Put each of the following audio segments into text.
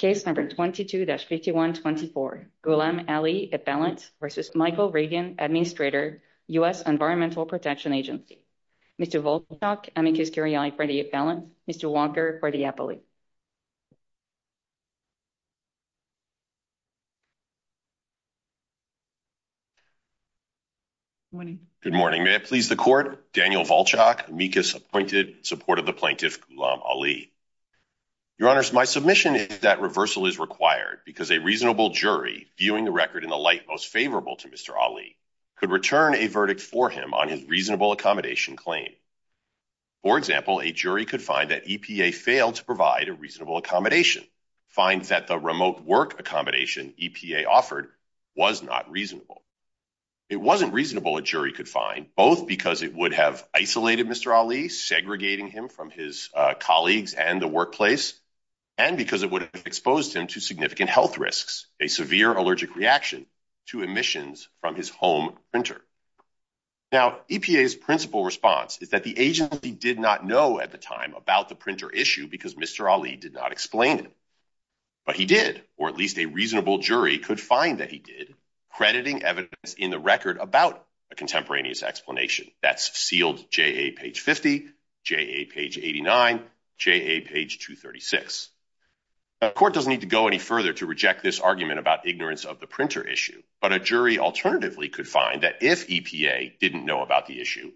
Administrator, U.S. Environmental Protection Agency. Mr. Volchok, amicus curiae for the appellant. Mr. Walker for the appellate. Good morning. May I please the court? Daniel Volchok, amicus appointed, in support of the plaintiff Ghulam Ali. Your honors, my submission is that reversal is required because a reasonable jury, viewing the record in the light most favorable to Mr. Ali, could return a verdict for him on his reasonable accommodation claim. For example, a jury could find that EPA failed to provide a reasonable accommodation, find that the remote work accommodation EPA offered was not reasonable. It wasn't reasonable, a jury could find, both because it would have harmed his colleagues and the workplace, and because it would have exposed him to significant health risks, a severe allergic reaction to emissions from his home printer. Now, EPA's principal response is that the agency did not know at the time about the printer issue because Mr. Ali did not explain it. But he did, or at least a reasonable jury could find that he did, crediting evidence in the record about a contemporaneous explanation. That's sealed J.A. page 50, J.A. page 89, J.A. page 236. The court doesn't need to go any further to reject this argument about ignorance of the printer issue, but a jury alternatively could find that if EPA didn't know about the issue,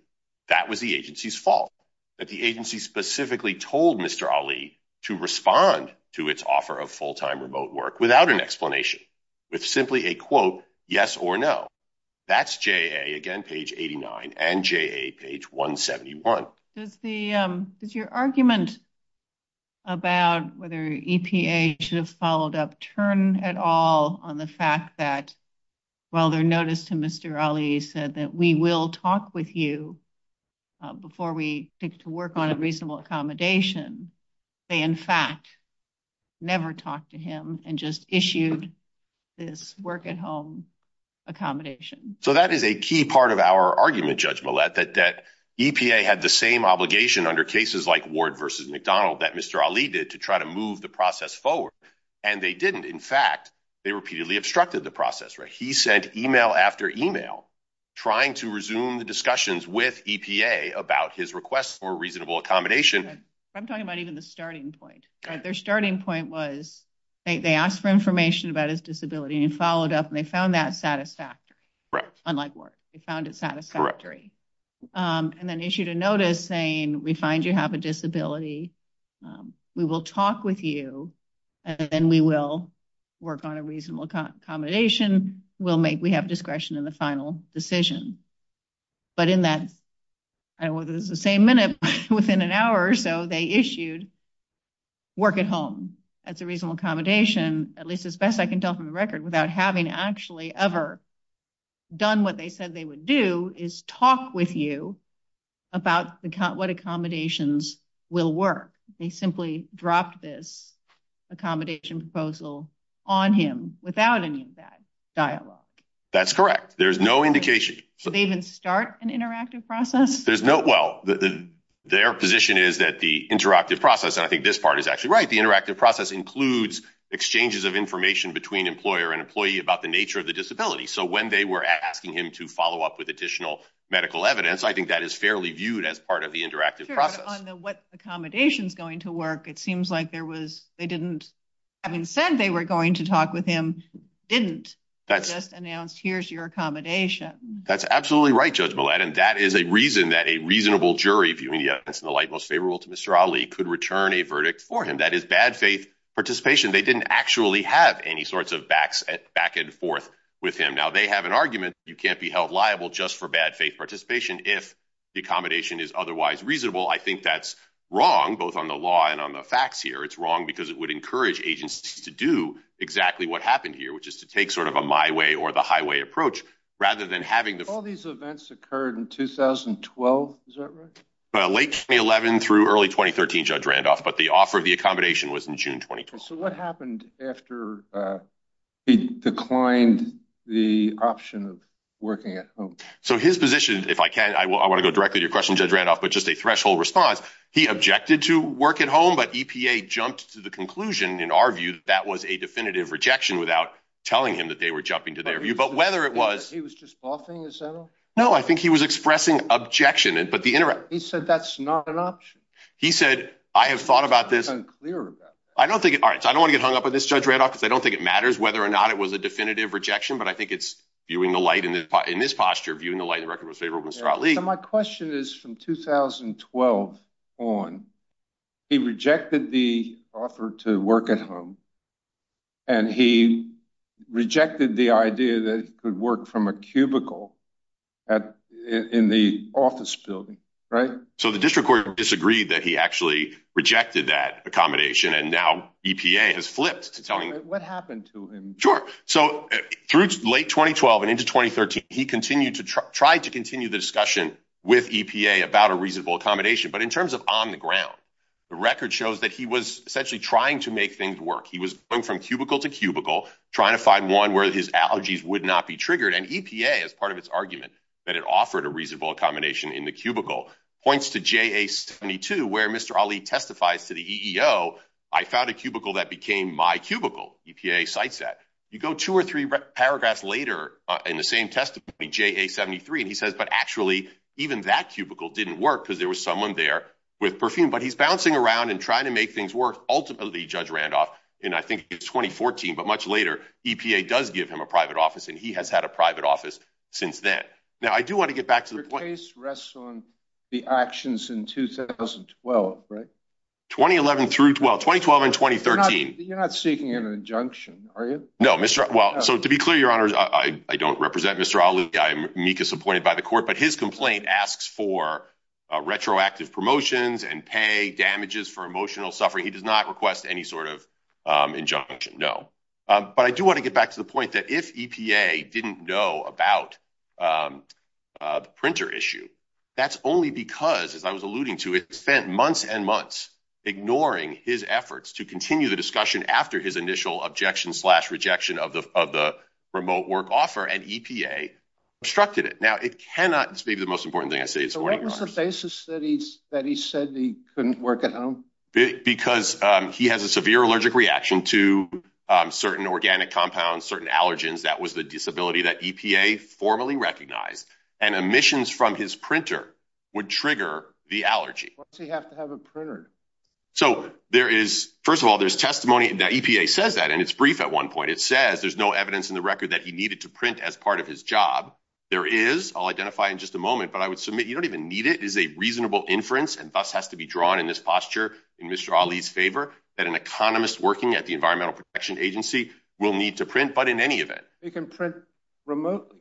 that was the agency's fault, that the agency specifically told Mr. Ali to respond to its offer of full-time remote work without an explanation, with simply a quote, yes or no. That's J.A., again, page 89, and J.A., page 171. Does your argument about whether EPA should have followed up turn at all on the fact that while their notice to Mr. Ali said that we will talk with you before we take to work on a reasonable accommodation, they in fact never talked to him and just issued this work-at-home accommodation? So that is a key part of our argument, Judge Millett, that EPA had the same obligation under cases like Ward v. McDonald that Mr. Ali did to try to move the process forward. And they didn't. In fact, they repeatedly obstructed the process. He sent email after email trying to resume the discussions with EPA about his request for reasonable accommodation. I'm talking about even the starting point. Their starting point was they asked for information about his disability, and he followed up, and they found that satisfactory, unlike Ward. They found it satisfactory. And then issued a notice saying, we find you have a disability. We will talk with you, and then we will work on a reasonable accommodation. We have discretion in the final decision. But in that, I don't know whether it's the same minute, but within an hour or so, they issued work-at-home. That's a reasonable accommodation, at least as best I can tell from the record, without having actually ever done what they said they would do, is talk with you about what accommodations will work. They simply dropped this accommodation proposal on him without any of that dialogue. That's correct. There's no indication. Did they even start an interactive process? There's no, well, their position is that the interactive process, and I think this part is actually right, the interactive process includes exchanges of information between employer and employee about the nature of the disability. So when they were asking him to follow up with additional medical evidence, I think that is fairly viewed as part of the interactive process. Sure, but on the what accommodations going to work, it seems like there was, they didn't, having said they were going to talk with him, didn't just announce, here's your accommodation. That's absolutely right, Judge Millett, and that is a reason that a reasonable jury, viewing it as in the light most favorable to Mr. Ali, could return a verdict for him. That is bad faith participation. They didn't actually have any sorts of backs, back and forth with him. Now, they have an argument, you can't be held liable just for bad faith participation if the accommodation is otherwise reasonable. I think that's wrong, both on the law and on the facts here. It's wrong because it would encourage agencies to do exactly what happened here, which is to take sort of a my way or the highway approach rather than having the- All these events occurred in 2012, is that right? Late 2011 through early 2013, Judge Randolph, but the offer of the accommodation was in June 2012. So what happened after he declined the option of working at home? So his position, if I can, I want to go directly to your question, Judge Randolph, but just a threshold response. He objected to work at home, but EPA jumped to the conclusion, in our view, that that was a definitive rejection without telling him that they were jumping to their view. But whether it was- He was just bluffing, is that all? No, I think he was expressing objection, but the- He said that's not an option. He said, I have thought about this- I'm unclear about that. All right, so I don't want to get hung up on this, Judge Randolph, because I don't think it matters whether or not it was a definitive rejection, but I think it's viewing the light in this posture, viewing the light in the record most favorable to Mr. Ali. So my question is, from 2012 on, he rejected the offer to work at home, and he rejected the idea that he could work from a cubicle in the office building, right? So the district court disagreed that he actually rejected that accommodation, and now EPA has flipped to telling- What happened to him? Sure. So through late 2012 and into 2013, he tried to continue the discussion with EPA about a reasonable accommodation. But in terms of on the ground, the record shows that he was essentially trying to make things work. He was going from cubicle to cubicle, trying to find one where his allergies would not be triggered, and EPA, as part of its argument that it offered a reasonable accommodation in the cubicle, points to JA-72, where Mr. Ali testifies to the EEO, I found a cubicle that became my cubicle, EPA cites that. You go two or three paragraphs later in the same testimony, JA-73, and he says, but actually, even that cubicle didn't work because there was someone there with perfume. But he's bouncing around and trying to make things work. Ultimately, Judge Randolph, and I think it's 2014, but much later, EPA does give him a private office, and he has had a private office since then. Now I do want to get back to the point- Your case rests on the actions in 2012, right? 2011 through 12, 2012 and 2013. You're not seeking an injunction, are you? No. Well, so to be clear, your honors, I don't represent Mr. Ali. I'm meek as appointed by the court, but his complaint asks for retroactive promotions and pay damages for emotional suffering. He does not request any sort of injunction, no. But I do want to get back to the point that if EPA didn't know about the printer issue, that's only because, as I was alluding to, it spent months and months ignoring his efforts to continue the discussion after his initial objection slash rejection of the remote work offer, and EPA obstructed it. Now it cannot- This may be the most important thing I say this morning, your honors. So what was the basis that he said he couldn't work at home? Because he has a severe allergic reaction to certain organic compounds, certain allergens. That was the disability that EPA formally recognized. And emissions from his printer would trigger the allergy. Why does he have to have a printer? So there is, first of all, there's testimony that EPA says that, and it's brief at one point. It says there's no evidence in the record that he needed to print as part of his job. There is, I'll identify in just a moment, but I would submit you don't even need it. It is a reasonable inference and thus has to be drawn in this posture in Mr. Ali's favor that an economist working at the Environmental Protection Agency will need to print, but in any event- He can print remotely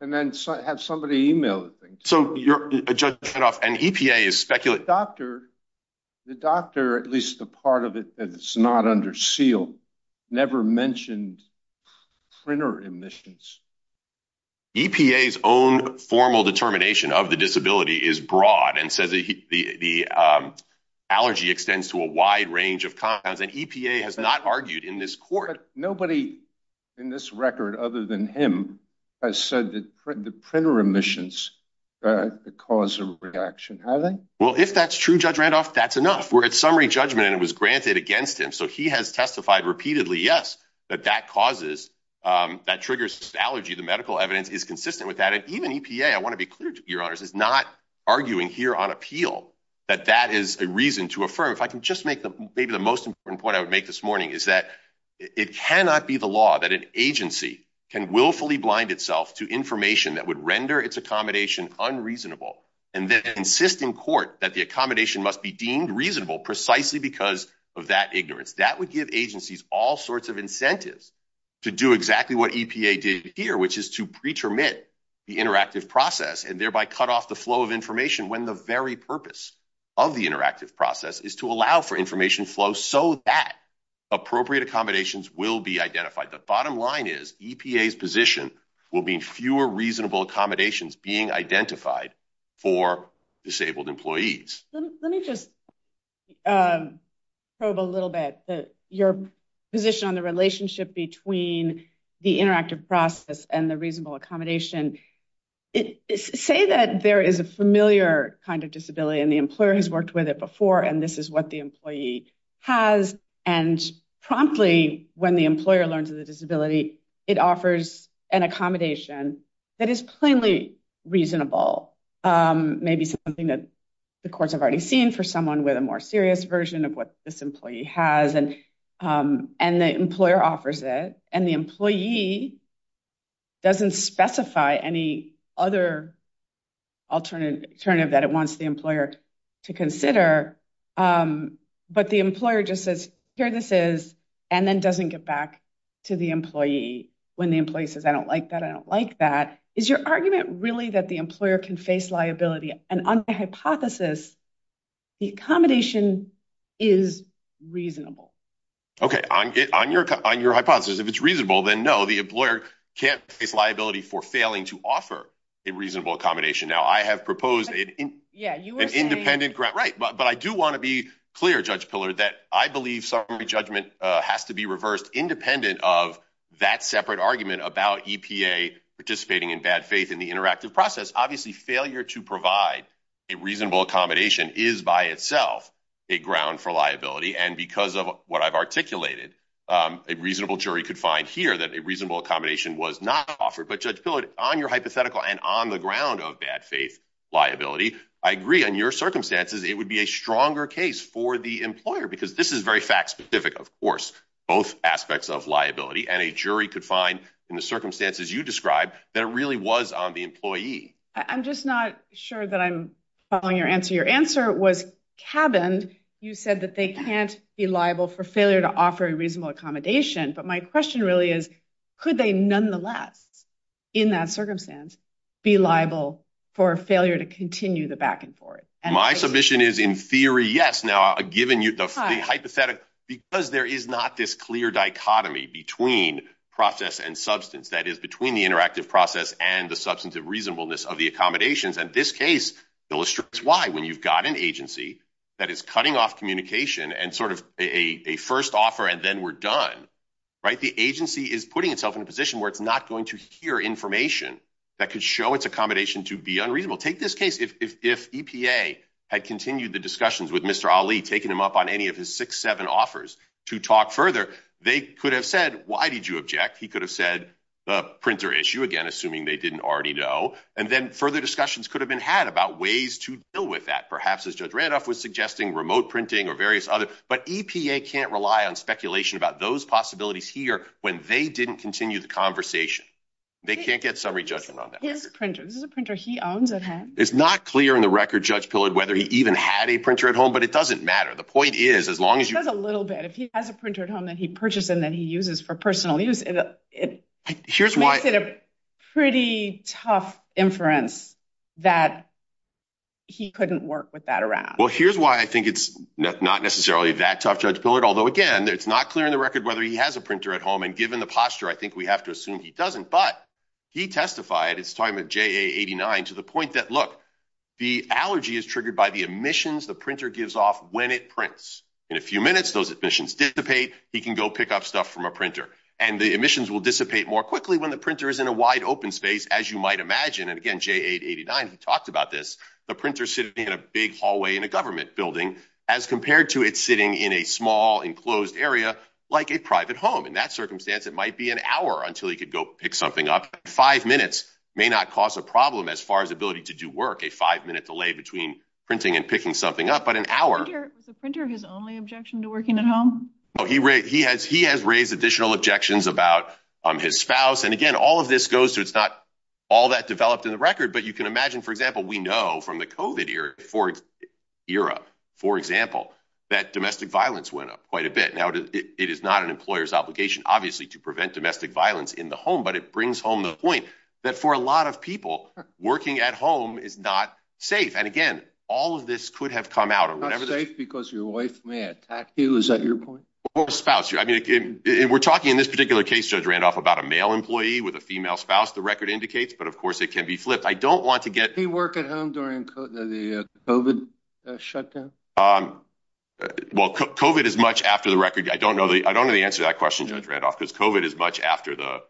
and then have somebody email the thing. So you're, Judge Kanoff, and EPA is speculating- The doctor, at least the part of it that's not under seal, never mentioned printer emissions. EPA's own formal determination of the disability is broad and says the allergy extends to a wide range of compounds, and EPA has not argued in this court- Well, if that's true, Judge Randolph, that's enough. We're at summary judgment and it was granted against him. So he has testified repeatedly, yes, that that causes, that triggers allergy. The medical evidence is consistent with that, and even EPA, I want to be clear to you, Your Honors, is not arguing here on appeal that that is a reason to affirm. If I can just make maybe the most important point I would make this morning is that it cannot be the law that an agency can willfully blind itself to information that would render its accommodation unreasonable and then insist in court that the accommodation must be deemed reasonable precisely because of that ignorance. That would give agencies all sorts of incentives to do exactly what EPA did here, which is to pretermit the interactive process and thereby cut off the flow of information when the very purpose of the interactive process is to allow for information flow so that appropriate accommodations will be identified. The bottom line is EPA's position will be fewer reasonable accommodations being identified for disabled employees. Let me just probe a little bit that your position on the relationship between the interactive process and the reasonable accommodation, say that there is a familiar kind of disability and the employer has worked with it before, and this is what the employee has. And promptly when the employer learns of the disability, it offers an accommodation that is plainly reasonable, maybe something that the courts have already seen for someone with a more serious version of what this employee has and the employer offers it. And the employee doesn't specify any other alternative that it wants the employer to hear this is and then doesn't get back to the employee when the employee says, I don't like that. I don't like that. Is your argument really that the employer can face liability? And on the hypothesis, the accommodation is reasonable. OK, on your hypothesis, if it's reasonable, then no, the employer can't face liability for failing to offer a reasonable accommodation. Now, I have proposed an independent grant. Right. But I do want to be clear, Judge Pillar, that I believe summary judgment has to be reversed independent of that separate argument about EPA participating in bad faith in the interactive process. Obviously, failure to provide a reasonable accommodation is by itself a ground for liability. And because of what I've articulated, a reasonable jury could find here that a reasonable accommodation was not offered. But Judge Pillar, on your hypothetical and on the ground of bad faith liability, I agree on your circumstances. It would be a stronger case for the employer because this is very fact specific. Of course, both aspects of liability and a jury could find in the circumstances you describe that it really was on the employee. I'm just not sure that I'm following your answer. Your answer was cabined. You said that they can't be liable for failure to offer a reasonable accommodation. But my question really is, could they nonetheless in that circumstance be liable for failure to continue the back and forth? And my submission is in theory, yes. Now, given you the hypothetical, because there is not this clear dichotomy between process and substance that is between the interactive process and the substantive reasonableness of the accommodations. And this case illustrates why when you've got an agency that is cutting off communication and sort of a first offer and then we're done, right, the agency is putting itself in a position where it's not going to hear information that could show its reasonable. Take this case. If EPA had continued the discussions with Mr. Ali, taking him up on any of his six, seven offers to talk further, they could have said, why did you object? He could have said the printer issue again, assuming they didn't already know. And then further discussions could have been had about ways to deal with that, perhaps as Judge Randolph was suggesting, remote printing or various other. But EPA can't rely on speculation about those possibilities here when they didn't continue the conversation. They can't get summary judgment on that. This is a printer he owns. It's not clear in the record, Judge Pillard, whether he even had a printer at home, but it doesn't matter. The point is, as long as you have a little bit, if he has a printer at home that he purchased and that he uses for personal use, it makes it a pretty tough inference that he couldn't work with that around. Well, here's why I think it's not necessarily that tough, Judge Pillard. Although, again, it's not clear in the record whether he has a printer at home. And given the posture, I think we have to assume he doesn't. But he testified at his time at JA89 to the point that, look, the allergy is triggered by the emissions the printer gives off when it prints. In a few minutes, those emissions dissipate. He can go pick up stuff from a printer and the emissions will dissipate more quickly when the printer is in a wide open space, as you might imagine. And again, JA89, he talked about this. The printer sitting in a big hallway in a government building as compared to it sitting in a small enclosed area like a private home. In that circumstance, it might be an hour until he could go pick something up. Five minutes may not cause a problem as far as ability to do work. A five minute delay between printing and picking something up. But an hour. Was the printer his only objection to working at home? No, he has raised additional objections about his spouse. And again, all of this goes to it's not all that developed in the record. But you can imagine, for example, we know from the COVID era, for example, that domestic violence went up quite a bit. Now, it is not an employer's obligation, obviously, to prevent domestic violence in the home. But it brings home the point that for a lot of people working at home is not safe. And again, all of this could have come out or whatever. Safe because your wife may attack you. Is that your point? Or a spouse? I mean, we're talking in this particular case, Judge Randolph, about a male employee with a female spouse, the record indicates. But of course, it can be flipped. I don't want to get. Do you work at home during the COVID shutdown? Um, well, COVID is much after the record. I don't know. I don't know the answer to that question, Judge Randolph, because COVID is much after the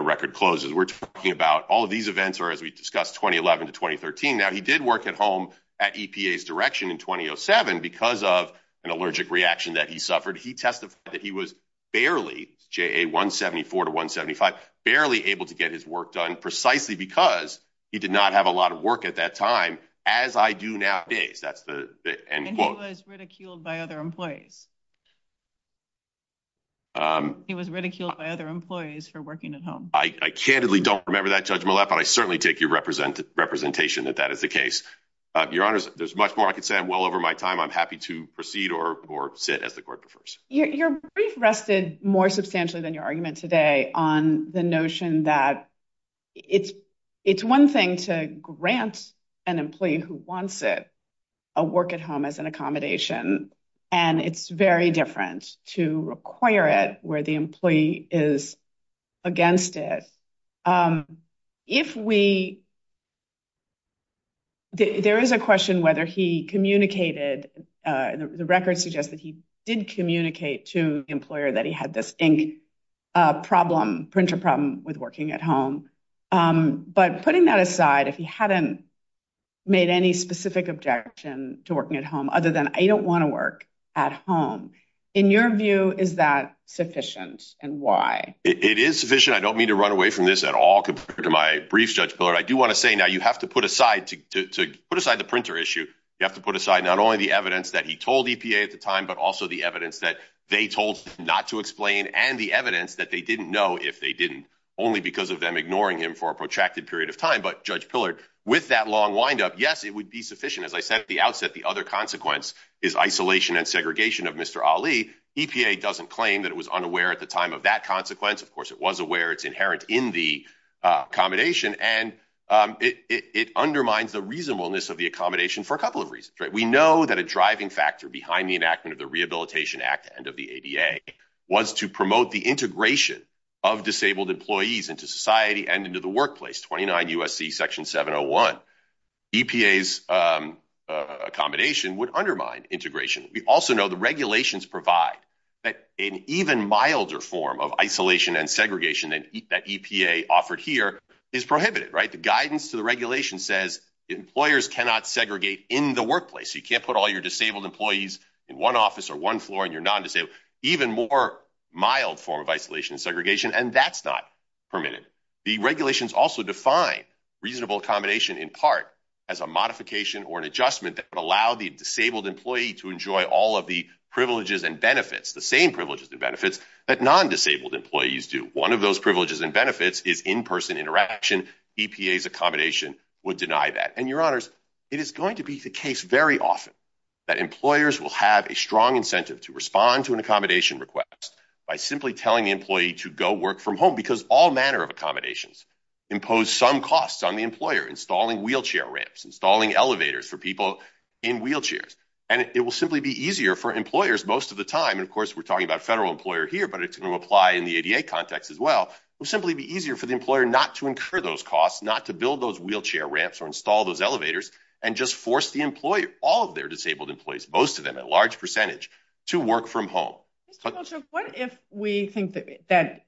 record closes. We're talking about all of these events are, as we discussed, 2011 to 2013. Now, he did work at home at EPA's direction in 2007 because of an allergic reaction that he suffered. He testified that he was barely J.A. 174 to 175, barely able to get his work done precisely because he did not have a lot of work at that time, as I do nowadays. That's the end quote. And he was ridiculed by other employees. He was ridiculed by other employees for working at home. I candidly don't remember that judgment, but I certainly take your representation that that is the case. Your Honor, there's much more I can say. I'm well over my time. I'm happy to proceed or sit as the court prefers. Your brief rested more substantially than your argument today on the notion that it's one thing to grant an employee who wants it a work at home as an accommodation, and it's very different to require it where the employee is against it. If we. There is a question whether he communicated, the record suggests that he did communicate to the employer that he had this ink problem, printer problem with working at home. But putting that aside, if he hadn't made any specific objection to working at home other than I don't want to work at home, in your view, is that sufficient and why? It is sufficient. I don't mean to run away from this at all compared to my briefs, Judge Pillard. I do want to say now you have to put aside to put aside the printer issue. You have to put aside not only the evidence that he told EPA at the time, but also the evidence that they told not to explain and the evidence that they didn't know if they didn't only because of them ignoring him for a protracted period of time. But Judge Pillard, with that long windup, yes, it would be sufficient. As I said at the outset, the other consequence is isolation and segregation of Mr. Ali. EPA doesn't claim that it was unaware at the time of that consequence. Of course, it was aware it's inherent in the accommodation and it undermines the reasonableness of the accommodation for a couple of reasons. We know that a driving factor behind the enactment of the Rehabilitation Act and of the EPA was to promote the integration of disabled employees into society and into the workplace. Twenty nine USC Section 701 EPA's accommodation would undermine integration. We also know the regulations provide that an even milder form of isolation and segregation that EPA offered here is prohibited. Right. The guidance to the regulation says employers cannot segregate in the workplace. You can't put all your disabled employees in one office or one floor and you're not even more mild form of isolation and segregation. And that's not permitted. The regulations also define reasonable accommodation in part as a modification or an adjustment that would allow the disabled employee to enjoy all of the privileges and benefits, the same privileges and benefits that non-disabled employees do. One of those privileges and benefits is in-person interaction. EPA's accommodation would deny that. And your honors, it is going to be the case very often that employers will have a strong incentive to respond to an accommodation request by simply telling the employee to go work from home because all manner of accommodations impose some costs on the employer, installing wheelchair ramps, installing elevators for people in wheelchairs. And it will simply be easier for employers most of the time. And of course, we're talking about federal employer here, but it's going to apply in the ADA context as well. It will simply be easier for the employer not to incur those costs, not to build those wheelchair ramps or install those elevators and just force the employer, all of their to work from home. What if we think that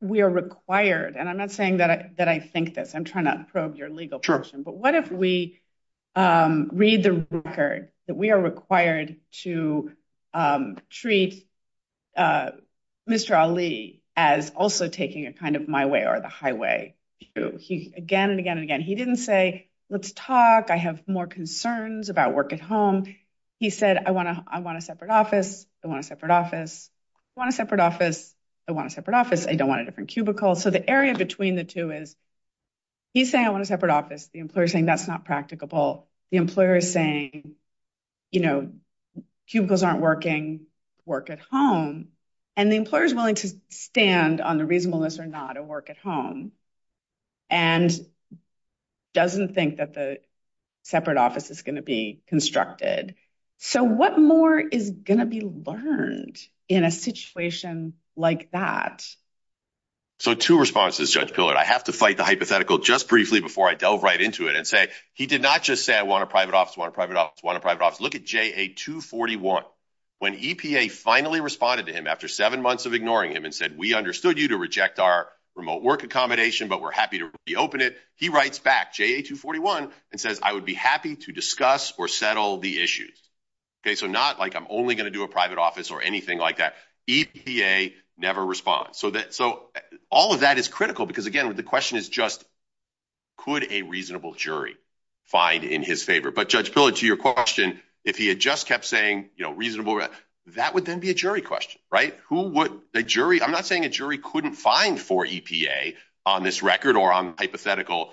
we are required and I'm not saying that I think this, I'm trying to probe your legal question, but what if we read the record that we are required to treat Mr. Ali as also taking a kind of my way or the highway? He again and again and again, he didn't say, let's talk. I have more concerns about work at home. He said, I want to I want a separate office, I want a separate office, I want a separate office, I want a separate office. I don't want a different cubicle. So the area between the two is. He's saying I want a separate office, the employer saying that's not practicable, the employer is saying, you know, cubicles aren't working, work at home and the employer is willing to stand on the reasonableness or not to work at home. And doesn't think that the separate office is going to be constructed. So what more is going to be learned in a situation like that? So two responses, Judge Pillard, I have to fight the hypothetical just briefly before I delve right into it and say he did not just say I want a private office, want a private office, want a private office. Look at J.A. 241 when EPA finally responded to him after seven months of ignoring him and said, we understood you to reject our remote work accommodation, but we're happy to reopen it. He writes back J.A. 241 and says, I would be happy to discuss or settle the issues. OK, so not like I'm only going to do a private office or anything like that. EPA never responds so that so all of that is critical because, again, the question is just, could a reasonable jury find in his favor? But Judge Pillard, to your question, if he had just kept saying reasonable, that would then be a jury question, right? Who would a jury I'm not saying a jury couldn't find for EPA on this record or on hypothetical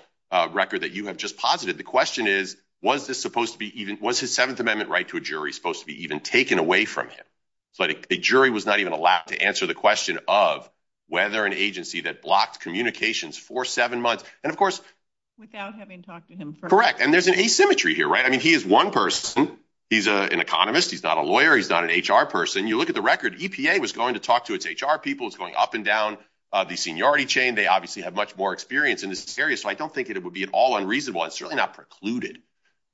record that you have just posited. The question is, was this supposed to be even was his Seventh Amendment right to a jury supposed to be even taken away from him? So a jury was not even allowed to answer the question of whether an agency that blocked communications for seven months and of course, without having talked to him, correct. And there's an asymmetry here, right? I mean, he is one person. He's an economist. He's not a lawyer. He's not an HR person. You look at the record. EPA was going to talk to its HR people. It's going up and down the seniority chain. They obviously have much more experience in this area. So I don't think it would be at all unreasonable. It's really not precluded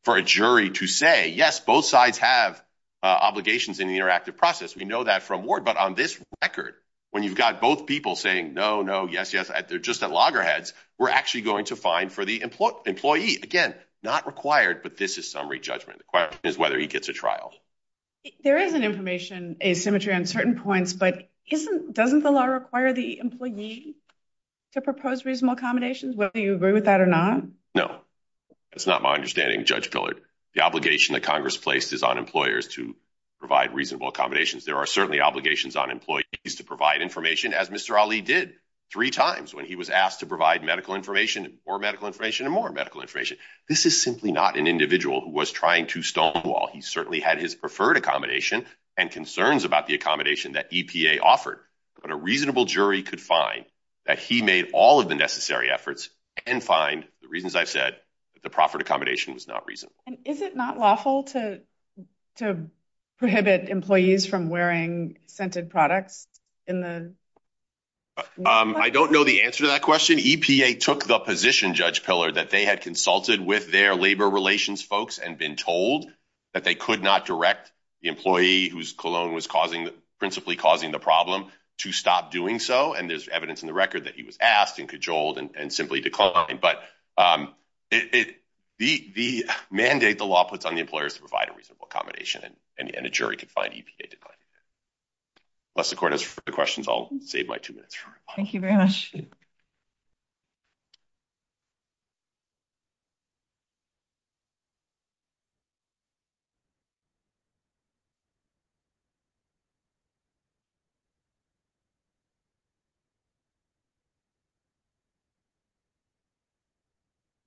for a jury to say, yes, both sides have obligations in the interactive process. We know that from Ward. But on this record, when you've got both people saying no, no, yes, yes, they're just at loggerheads. We're actually going to find for the employee employee again, not required. But this is summary judgment. The question is whether he gets a trial. There is an information asymmetry on certain points, but isn't doesn't the law require the employee to propose reasonable accommodations? Well, do you agree with that or not? No, that's not my understanding. Judge Pillard, the obligation that Congress placed is on employers to provide reasonable accommodations. There are certainly obligations on employees to provide information, as Mr. Ali did three times when he was asked to provide medical information or medical information and more medical information. This is simply not an individual who was trying to stonewall. He certainly had his preferred accommodation and concerns about the accommodation that EPA offered. But a reasonable jury could find that he made all of the necessary efforts and find the reasons I've said that the proffered accommodation was not reasonable. And is it not lawful to to prohibit employees from wearing scented products in the? I don't know the answer to that question. EPA took the position, Judge Pillard, that they had consulted with their labor relations folks and been told that they could not direct the employee whose cologne was causing the principally causing the problem to stop doing so. And there's evidence in the record that he was asked and cajoled and simply declined. But it the the mandate the law puts on the employers to provide a reasonable accommodation and a jury could find EPA to. Unless the court is for the questions, I'll save my two minutes. Thank you very much. Thank you.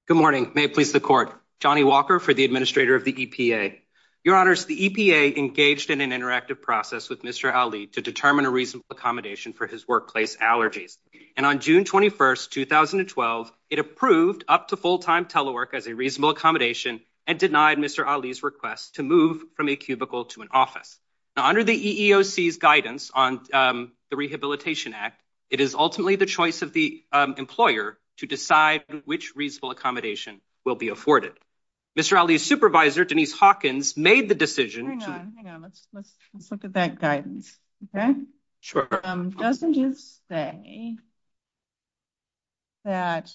Good morning, may it please the court, Johnny Walker for the administrator of the EPA. Your honors, the EPA engaged in an interactive process with Mr. Ali to determine a reasonable accommodation for his workplace allergies. And on June 21st, 2012, it approved up to full time telework as a reasonable accommodation and denied Mr. Ali's request to move from a cubicle to an office under the EEOC guidance on the Rehabilitation Act. It is ultimately the choice of the employer to decide which reasonable accommodation will be afforded. Mr. Ali's supervisor, Denise Hawkins, made the decision to look at that guidance. OK, sure, doesn't just say. That.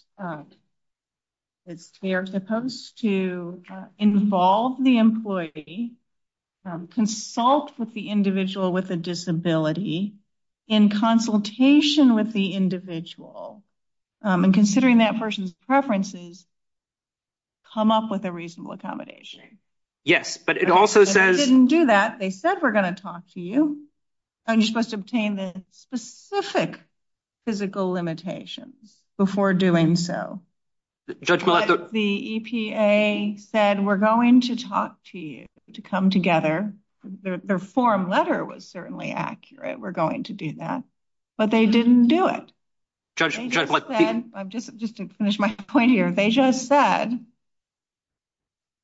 It's they're supposed to involve the employee, consult with the individual with a disability in consultation with the individual and considering that person's preferences. Come up with a reasonable accommodation. Yes, but it also says didn't do that, they said, we're going to talk to you. And you're supposed to obtain the specific physical limitations before doing so. Judge, the EPA said we're going to talk to you to come together. Their form letter was certainly accurate. We're going to do that. But they didn't do it. Judge, I'm just just to finish my point here. They just said.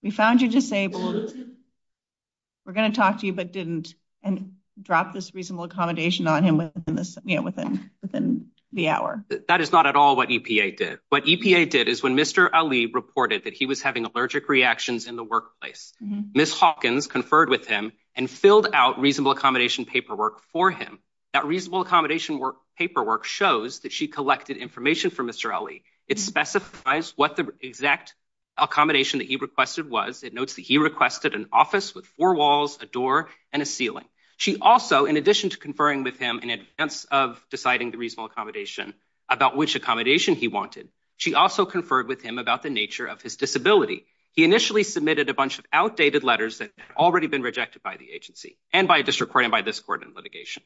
We found you disabled. We're going to talk to you, but didn't and drop this reasonable accommodation on him within this, you know, within within the hour, that is not at all what EPA did, what EPA did is when Mr. Ali reported that he was having allergic reactions in the workplace. Ms. Hawkins conferred with him and filled out reasonable accommodation paperwork for him. That reasonable accommodation paperwork shows that she collected information from Mr. Ali. It specifies what the exact accommodation that he requested was. It notes that he requested an office with four walls, a door and a ceiling. She also, in addition to conferring with him in advance of deciding the reasonable accommodation about which accommodation he wanted, she also conferred with him about the nature of his disability. He initially submitted a bunch of outdated letters that had already been rejected by the agency and by a district court and by this court in litigation.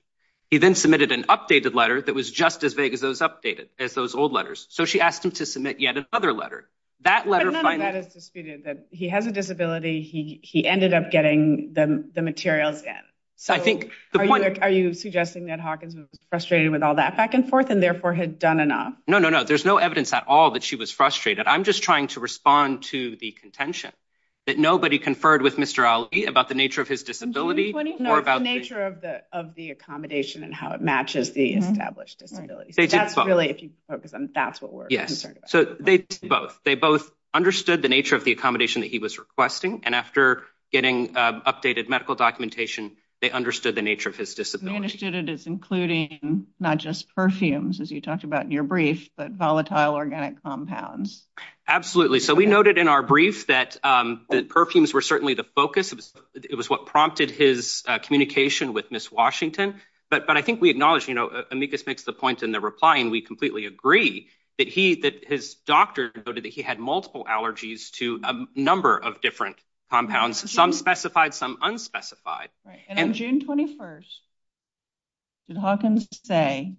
He then submitted an updated letter that was just as vague as those updated as those old letters. So she asked him to submit yet another letter. That letter is disputed that he has a disability. He he ended up getting the materials in. So I think the point are you suggesting that Hawkins was frustrated with all that back and forth and therefore had done enough? No, no, no. There's no evidence at all that she was frustrated. I'm just trying to respond to the contention that nobody conferred with Mr. Ali about the nature of his disability or about the nature of the of the accommodation and how it matches the established disability. So that's really if you focus on that's what we're concerned. So they both they both understood the nature of the accommodation that he was requesting. And after getting updated medical documentation, they understood the nature of his disability. Understood it is including not just perfumes, as you talked about in your brief, but volatile organic compounds. Absolutely. So we noted in our brief that the perfumes were certainly the focus of it was what prompted his communication with Miss Washington. But but I think we acknowledge, you know, Amicus makes the point in the reply. And we completely agree that he that his doctor noted that he had multiple allergies to a number of different compounds, some specified, some unspecified. Right. And on June 21st. Did Hawkins say.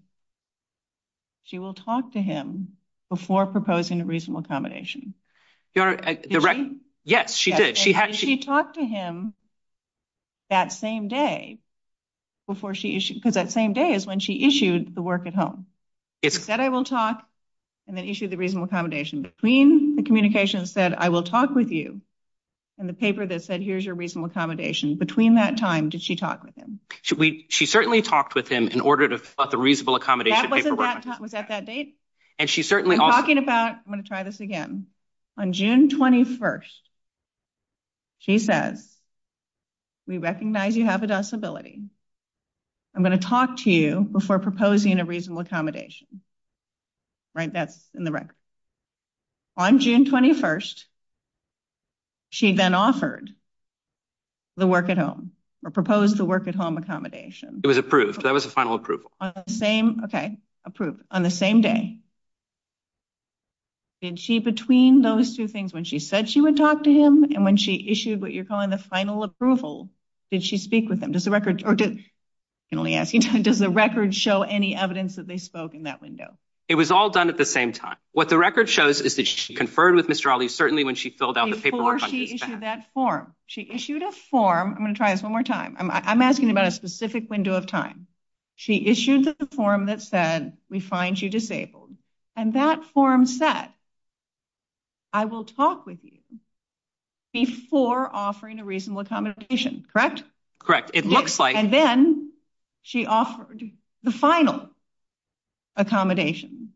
She will talk to him before proposing a reasonable accommodation. You're right. Yes, she did. She had she talked to him. That same day before she because that same day is when she issued the work at home. It's that I will talk and then issue the reasonable accommodation between the communications that I will talk with you and the paper that said, here's your reasonable accommodation between that time. Did she talk with him? Should we? She certainly talked with him in order to the reasonable accommodation was at that date. And she's certainly talking about. I'm going to try this again on June 21st. She says. We recognize you have a disability. I'm going to talk to you before proposing a reasonable accommodation. Right, that's in the record. On June 21st. She then offered. The work at home or proposed the work at home accommodation, it was approved, that was a final approval on the same approved on the same day. Did she between those two things when she said she would talk to him and when she issued what you're calling the final approval, did she speak with them? Does the record or did only ask you, does the record show any evidence that they spoke in that window? It was all done at the same time. What the record shows is that she conferred with Mr. Ali, certainly when she filled out the paperwork that form she issued a form. I'm going to try this one more time. I'm asking about a specific window of time. She issued the form that said, we find you disabled and that form set. I will talk with you before offering a reasonable accommodation, correct? Correct. It looks like and then she offered the final. Accommodation.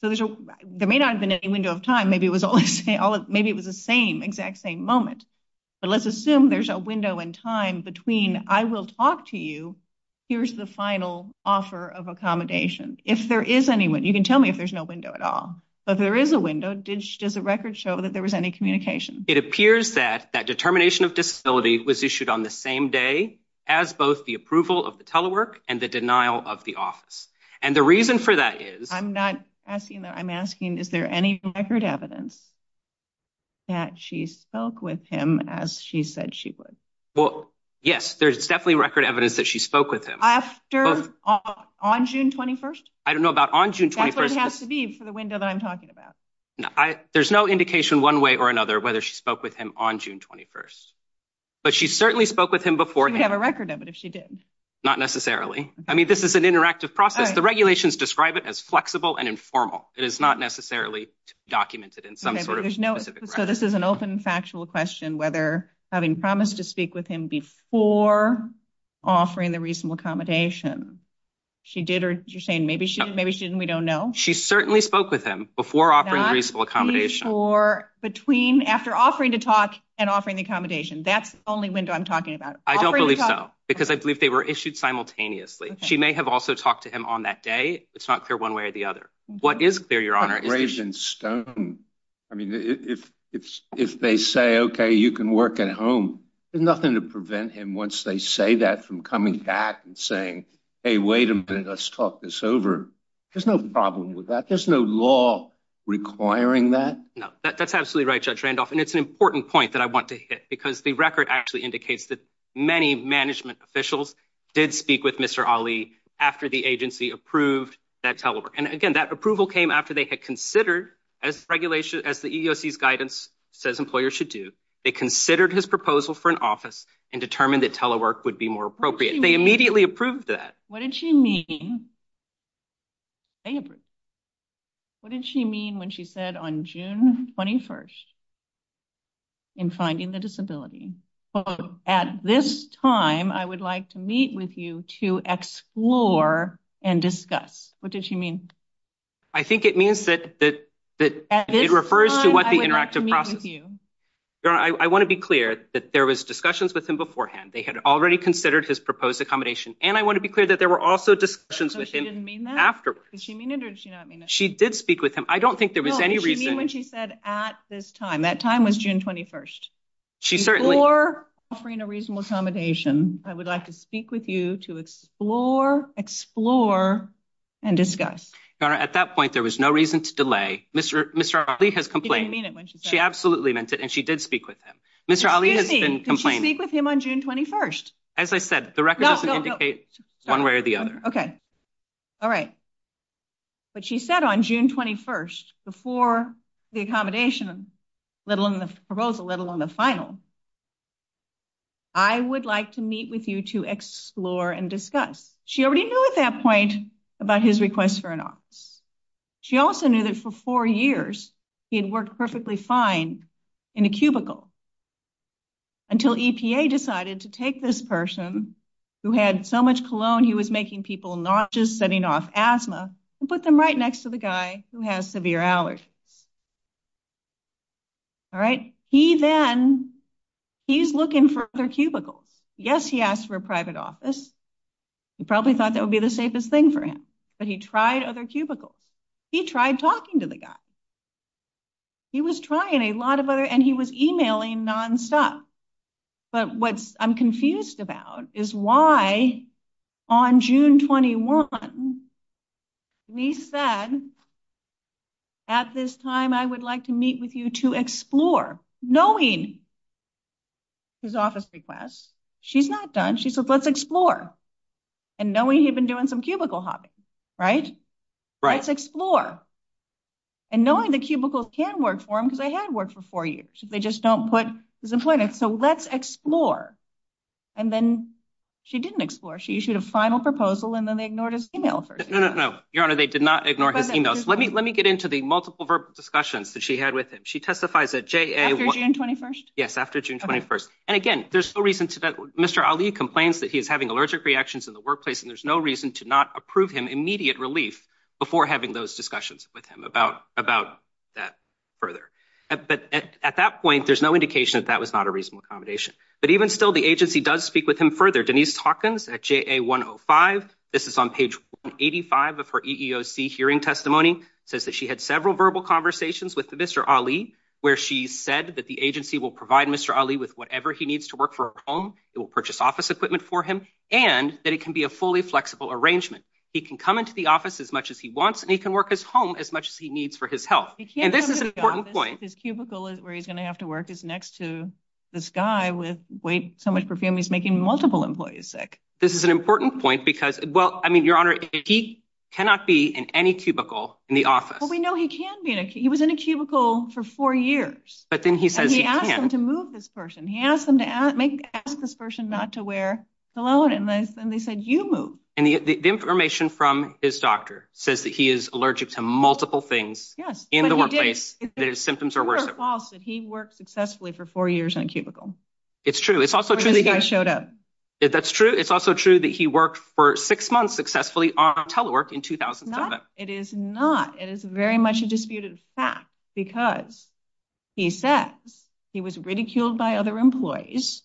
So there may not have been any window of time, maybe it was all maybe it was the same exact same moment, but let's assume there's a window in time between I will talk to you. Here's the final offer of accommodation. If there is anyone, you can tell me if there's no window at all, but there is a window. Did she does a record show that there was any communication? It appears that that determination of disability was issued on the same day as both the approval of the telework and the denial of the office. And the reason for that is I'm not asking that. I'm asking, is there any record evidence? That she spoke with him as she said she would. Well, yes, there's definitely record evidence that she spoke with him after on June 21st. I don't know about on June 21st has to be for the window that I'm talking about. There's no indication one way or another whether she spoke with him on June 21st, but she certainly spoke with him before. We have a record of it. If she did not necessarily. I mean, this is an interactive process. The regulations describe it as flexible and informal. It is not necessarily documented in some sort of there's no. So this is an open, factual question, whether having promised to speak with him before offering the reasonable accommodation she did, or you're saying maybe she maybe she didn't. We don't know. She certainly spoke with him before offering reasonable accommodation or between after offering to talk and offering the accommodation. That's the only window I'm talking about. I don't believe so, because I believe they were issued simultaneously. She may have also talked to him on that day. It's not clear one way or the other. What is clear, Your Honor? Ravenstone, I mean, if if if they say, OK, you can work at home, there's nothing to prevent him once they say that from coming back and saying, hey, wait a minute, let's talk this over. There's no problem with that. There's no law requiring that. No, that's absolutely right, Judge Randolph. And it's an important point that I want to hit, because the record actually indicates that many management officials did speak with Mr. Ali after the agency approved that telework. And again, that approval came after they had considered as regulation as the EEOC's guidance says employers should do. They considered his proposal for an office and determined that telework would be more appropriate. They immediately approved that. What did she mean? They approved. What did she mean when she said on June 21st? In finding the disability at this time, I would like to meet with you to explore and discuss. What did she mean? I think it means that that that it refers to what the interactive process you. Your Honor, I want to be clear that there was discussions with him beforehand. They had already considered his proposed accommodation. And I want to be clear that there were also discussions with him afterwards. Did she mean it or did she not mean it? She did speak with him. I don't think there was any reason when she said at this time. That time was June 21st. She certainly or offering a reasonable accommodation. I would like to speak with you to explore, explore and discuss. Your Honor, at that point, there was no reason to delay. Mr. Mr. Ali has complained. She absolutely meant it. And she did speak with him. Mr. Ali has been complaining with him on June 21st. As I said, the record doesn't indicate one way or the other. OK. All right. But she said on June 21st, before the accommodation, let alone the proposal, let alone the final. I would like to meet with you to explore and discuss. She already knew at that point about his request for an office. She also knew that for four years he had worked perfectly fine in a cubicle. Until EPA decided to take this person who had so much cologne, he was making people not just setting off asthma and put them right next to the guy who has severe allergies. All right. He then he's looking for their cubicles, yes, he asked for a private office, he probably thought that would be the safest thing for him, but he tried other cubicles, he tried talking to the guy. He was trying a lot of other and he was emailing nonstop. But what I'm confused about is why on June 21. He said. At this time, I would like to meet with you to explore, knowing. His office requests, she's not done, she said, let's explore and knowing he'd been doing some cubicle hopping. Right. Right. Let's explore. And knowing the cubicles can work for him because I had worked for four years, they just don't put his employment. So let's explore. And then she didn't explore. She issued a final proposal and then they ignored his email. No, no, no, your honor. They did not ignore his emails. Let me let me get into the multiple verbal discussions that she had with him. She testifies at J.A. After June 21st. Yes. After June 21st. And again, there's no reason to that. Mr. Ali complains that he is having allergic reactions in the workplace and there's no reason to not approve him immediate relief before having those discussions with him about about that further. But at that point, there's no indication that that was not a reasonable accommodation. But even still, the agency does speak with him further. Denise Hawkins at J.A. 105. This is on page eighty five of her EEOC hearing. Testimony says that she had several verbal conversations with Mr. Ali, where she said that the agency will provide Mr. Ali with whatever he needs to work for a home. It will purchase office equipment for him and that it can be a fully flexible arrangement. He can come into the office as much as he wants and he can work his home as much as he needs for his health. And this is an important point. His cubicle is where he's going to have to work is next to this guy with so much perfume. He's making multiple employees sick. This is an important point because, well, I mean, your honor, he cannot be in any cubicle in the office. But we know he can be. He was in a cubicle for four years. But then he says he asked him to move this person. He asked them to ask this person not to wear cologne. And they said you move. And the information from his doctor says that he is allergic to multiple things. Yes. In the workplace, the symptoms are worse. False that he worked successfully for four years in a cubicle. It's true. It's also true that I showed up. That's true. It's also true that he worked for six months successfully on telework in 2007. It is not. It is very much a disputed fact because he says he was ridiculed by other employees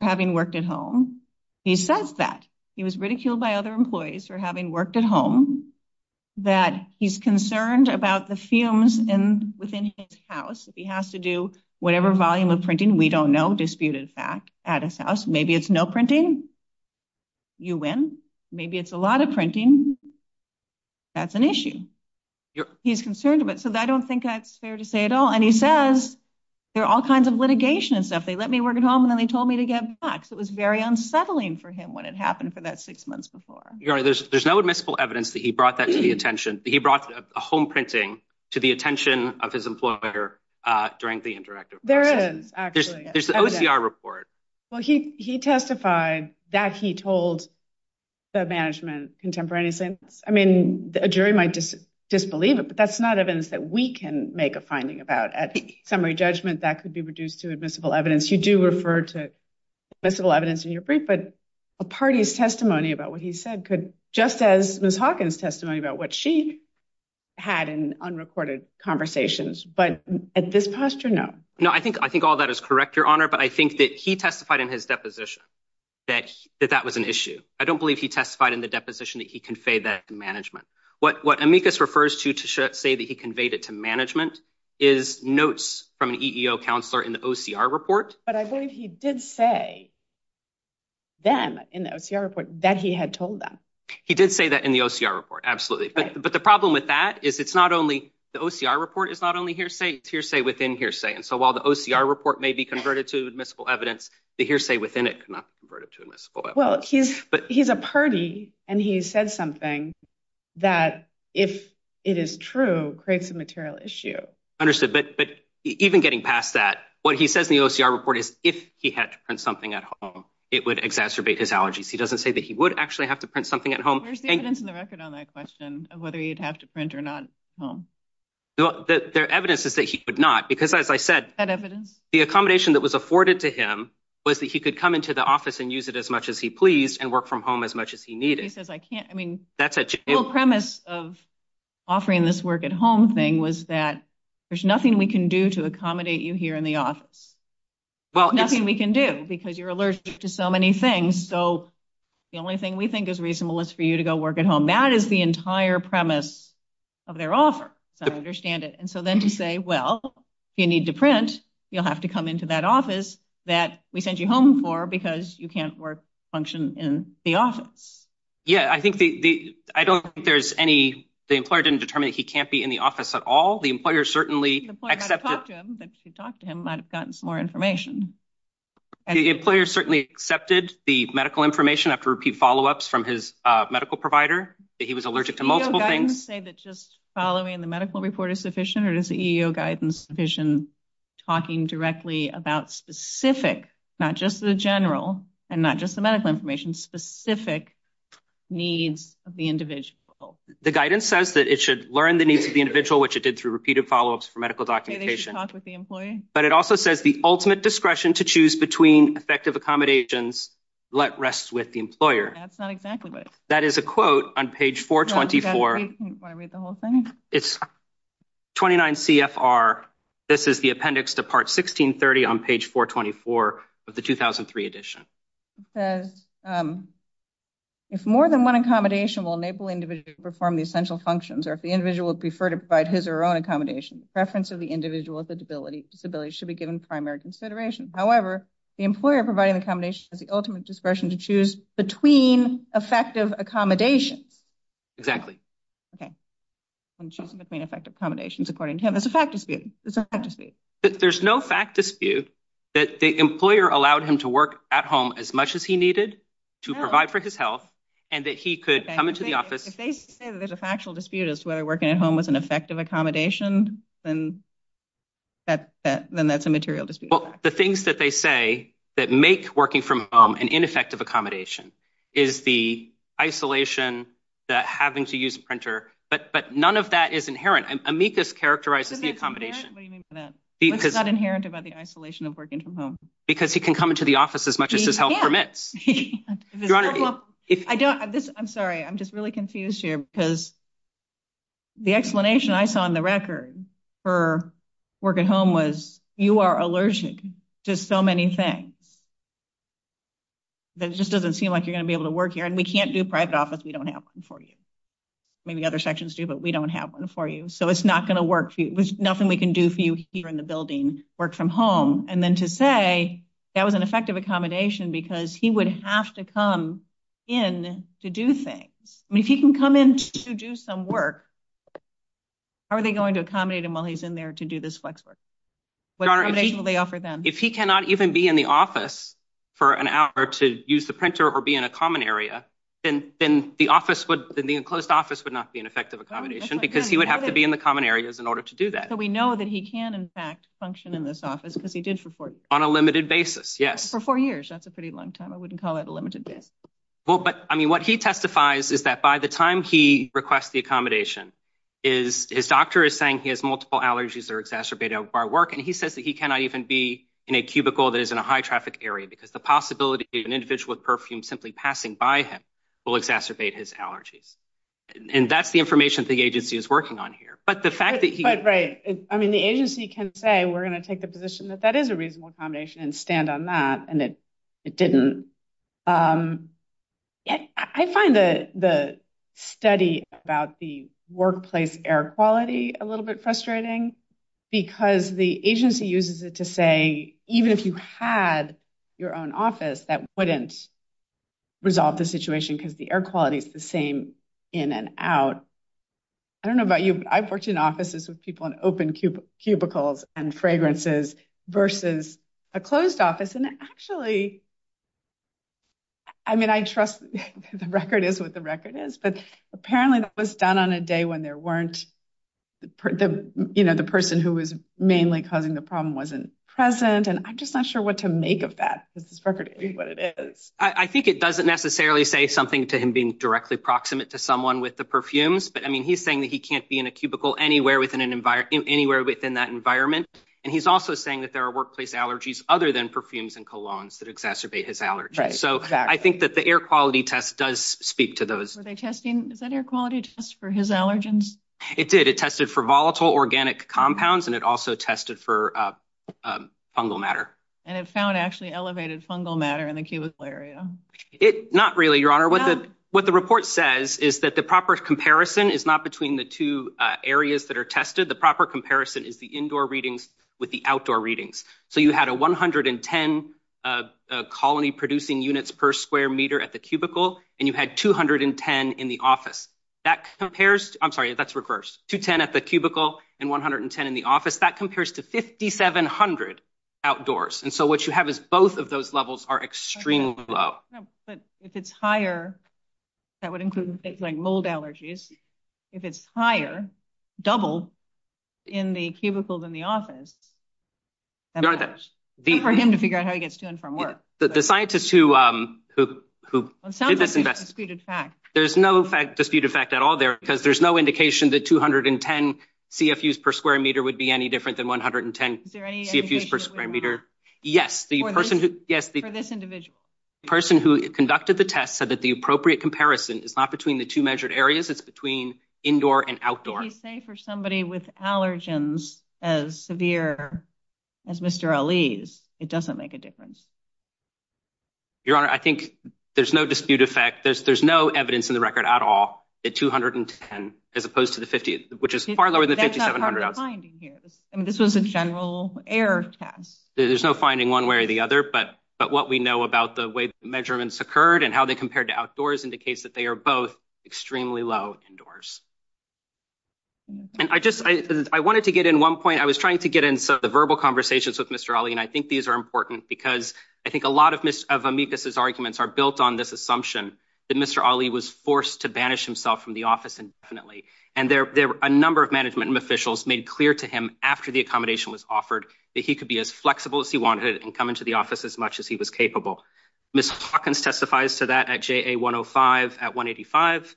having worked at home. He says that he was ridiculed by other employees for having worked at home, that he's concerned about the fumes within his house. If he has to do whatever volume of printing, we don't know. Disputed fact at his house. Maybe it's no printing. You win. Maybe it's a lot of printing. That's an issue. He's concerned about. So I don't think that's fair to say at all. And he says there are all kinds of litigation and stuff. They let me work at home and then they told me to get back. So it was very unsettling for him when it happened for that six months before. There's no admissible evidence that he brought that to the attention. He brought a home printing to the attention of his employer during the interactive. There is actually there's the OCR report. Well, he he testified that he told the management contemporaneously. I mean, a jury might just disbelieve it, but that's not evidence that we can make a finding about at summary judgment that could be reduced to admissible evidence. You do refer to this little evidence in your brief, but a party's testimony about what he said could just as Miss Hawkins testimony about what she had in unrecorded conversations. But at this posture, no, no, I think I think all that is correct, Your Honor. But I think that he testified in his deposition that that was an issue. I don't believe he testified in the deposition that he conveyed that management. What what amicus refers to to say that he conveyed it to management is notes from an EEO counselor in the OCR report. But I believe he did say. Then in the OCR report that he had told them he did say that in the OCR report, absolutely. But the problem with that is it's not only the OCR report is not only hearsay hearsay within hearsay. And so while the OCR report may be converted to admissible evidence, the hearsay within it cannot be converted to admissible. Well, he's but he's a party and he said something that if it is true, creates a material issue. Understood. But but even getting past that, what he says in the OCR report is if he had to print something at home, it would exacerbate his allergies. He doesn't say that he would actually have to print something at home. Where's the evidence in the record on that question of whether he'd have to print or not? Well, the evidence is that he would not because, as I said, that evidence, the accommodation that was afforded to him was that he could come into the office and use it as much as he pleased and work from home as much as he needed. He says, I can't. I mean, that's a premise of offering this work at home thing was that there's nothing we can do to accommodate you here in the office. Well, nothing we can do because you're allergic to so many things. So the only thing we think is reasonable is for you to go work at home. That is the entire premise of their offer. So I understand it. And so then to say, well, you need to print, you'll have to come into that office that we sent you home for because you can't work function in the office. Yeah, I think the I don't think there's any the employer didn't determine that he can't be in the office at all. The employer certainly accepted that you talked to him, might have gotten some more information. And the employer certainly accepted the medical information after repeat follow ups from his medical provider. He was allergic to multiple things that just following the medical report is sufficient. What is the EEO guidance vision talking directly about specific, not just the general and not just the medical information, specific needs of the individual? The guidance says that it should learn the needs of the individual, which it did through repeated follow ups for medical documentation with the employee. But it also says the ultimate discretion to choose between effective accommodations. Let rest with the employer. That's not exactly what that is. A quote on page four. Twenty four. Want to read the whole thing? It's twenty nine CFR. This is the appendix to part sixteen thirty on page four. Twenty four of the two thousand three edition says. If more than one accommodation will enable individuals to perform the essential functions or if the individual would prefer to provide his or her own accommodation, the preference of the individual with a disability should be given primary consideration. However, the employer providing accommodation is the ultimate discretion to choose between effective accommodations. Exactly. OK, I'm choosing between effective accommodations. According to him, there's a fact dispute. There's a fact dispute that there's no fact dispute that the employer allowed him to work at home as much as he needed to provide for his health and that he could come into the office. If they say that there's a factual dispute as to whether working at home was an effective accommodation, then. That then that's a material dispute, the things that they say that make working from home and ineffective accommodation is the isolation that having to use a printer, but but none of that is inherent. And Amicus characterizes the accommodation because it's not inherent about the isolation of working from home because he can come into the office as much as his health permits. If I don't, I'm sorry, I'm just really confused here because. The explanation I saw on the record for work at home was you are allergic to so many things. That just doesn't seem like you're going to be able to work here and we can't do private office. We don't have one for you. Maybe other sections do, but we don't have one for you, so it's not going to work for you. There's nothing we can do for you here in the building work from home. And then to say that was an effective accommodation because he would have to come in to do things. I mean, if he can come in to do some work. Are they going to accommodate him while he's in there to do this flex work? What are they offer them if he cannot even be in the office for an hour to use the printer or be in a common area and then the office would the enclosed office would not be an effective accommodation because he would have to be in the common areas in order to do that. So we know that he can, in fact, function in this office because he did for on a limited basis. Yes. For four years. That's a pretty long time. I wouldn't call it a limited. Well, but I mean, what he testifies is that by the time he requests the accommodation. Is his doctor is saying he has multiple allergies are exacerbated by work and he says that he cannot even be in a cubicle that is in a high traffic area because the possibility of an individual with perfume simply passing by him will exacerbate his allergies. And that's the information the agency is working on here. But the fact that he. But right. I mean, the agency can say we're going to take the position that that is a reasonable accommodation and stand on that. And it didn't. I find the the study about the workplace air quality a little bit frustrating because the agency uses it to say, even if you had your own office, that wouldn't. Resolve the situation because the air quality is the same in and out. I don't know about you, but I've worked in offices with people in open cubicles and fragrances versus a closed office, and actually. I mean, I trust the record is what the record is, but apparently that was done on a day when there weren't. You know, the person who was mainly causing the problem wasn't present, and I'm just not sure what to make of that. This is what it is. I think it doesn't necessarily say something to him being directly proximate to someone with the perfumes. But, I mean, he's saying that he can't be in a cubicle anywhere within an environment anywhere within that environment. And he's also saying that there are workplace allergies other than perfumes and colognes that exacerbate his allergies. So I think that the air quality test does speak to those. Are they testing, is that air quality test for his allergens? It did. It tested for volatile organic compounds, and it also tested for fungal matter. And it found actually elevated fungal matter in the cubicle area. It not really, your honor, what the, what the report says is that the proper comparison is not between the two areas that are tested. The proper comparison is the indoor readings with the outdoor readings. So you had a 110 colony producing units per square meter at the cubicle, and you had 210 in the office. That compares, I'm sorry, that's reversed, 210 at the cubicle and 110 in the office. That compares to 5,700 outdoors. And so what you have is both of those levels are extremely low. No, but if it's higher, that would include things like mold allergies. If it's higher, double in the cubicle than the office, for him to figure out how he gets to and from work. The scientists who did this invest, there's no fact disputed fact at all there, because there's no indication that 210 CFUs per square meter would be any different than 110 CFUs per square meter. Yes, the person who, yes, the person who conducted the test said that the appropriate comparison is not between the two measured areas. It's between indoor and outdoor. You say for somebody with allergens as severe as Mr. Ali's, it doesn't make a difference. Your honor, I think there's no dispute effect. There's, there's no evidence in the record at all at 210, as opposed to the 50, which is far lower than 5,700. I mean, this was a general error test. There's no finding one way or the other, but, but what we know about the way measurements occurred and how they compared to outdoors indicates that they are both extremely low indoors. And I just, I wanted to get in one point. I was trying to get into the verbal conversations with Mr. Ali. And I think these are important because I think a lot of miss of amicus's arguments are built on this assumption. That Mr. Ali was forced to banish himself from the office and definitely, and there were a number of management officials made clear to him after the accommodation was offered that he could be as flexible as he wanted and come into the office as much as he was capable. Miss Hawkins testifies to that at 105 at 185.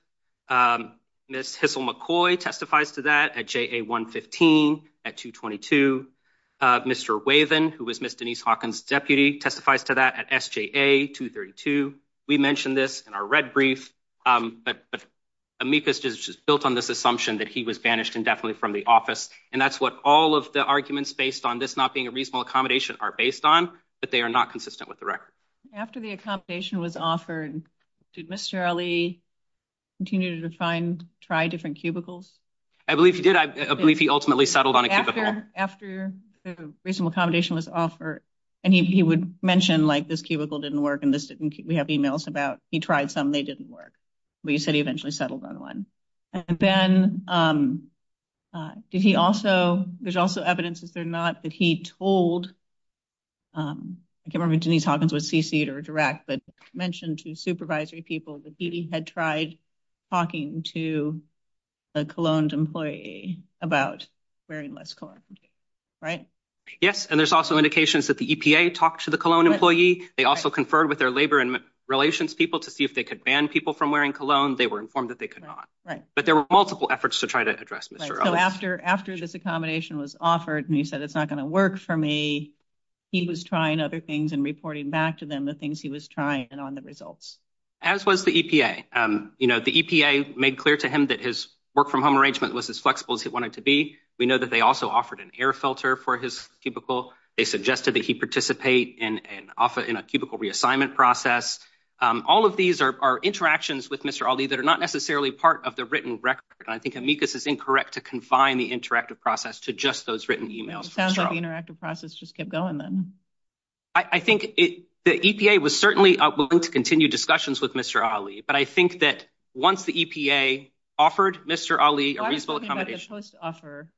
Miss McCoy testifies to that at 115 at 222. Mr. Wavin, who was Miss Denise Hawkins deputy testifies to that at SGA 232. We mentioned this in our red brief. But amicus just built on this assumption that he was banished indefinitely from the office. And that's what all of the arguments based on this not being a reasonable accommodation are based on, but they are not consistent with the record. After the accommodation was offered, did Mr. Ali continue to find, try different cubicles? I believe he did. I believe he ultimately settled on a cubicle. After the reasonable accommodation was offered, and he would mention, like, this cubicle didn't work and this didn't, we have emails about he tried some, they didn't work. But you said he eventually settled on one. And then, did he also, there's also evidence, is there not, that he told, I can't remember if Denise Hawkins was CC'd or direct, but mentioned to supervisory people that he had tried talking to a cologne employee about wearing less cologne, right? Yes, and there's also indications that the EPA talked to the cologne employee. They also conferred with their labor and relations people to see if they could ban people from wearing cologne. They were informed that they could not. But there were multiple efforts to try to address Mr. Ali. So after this accommodation was offered, and he said it's not going to work for me, he was trying other things and reporting back to them the things he was trying and on the results. As was the EPA. You know, the EPA made clear to him that his work from home arrangement was as flexible as he wanted to be. We know that they also offered an air filter for his cubicle. They suggested that he participate in a cubicle reassignment process. All of these are interactions with Mr. Ali that are not necessarily part of the written record. I think amicus is incorrect to confine the interactive process to just those written emails. Sounds like the interactive process just kept going then. I think the EPA was certainly willing to continue discussions with Mr. Ali. But I think that once the EPA offered Mr. Ali a reasonable accommodation. I was talking about the post-offer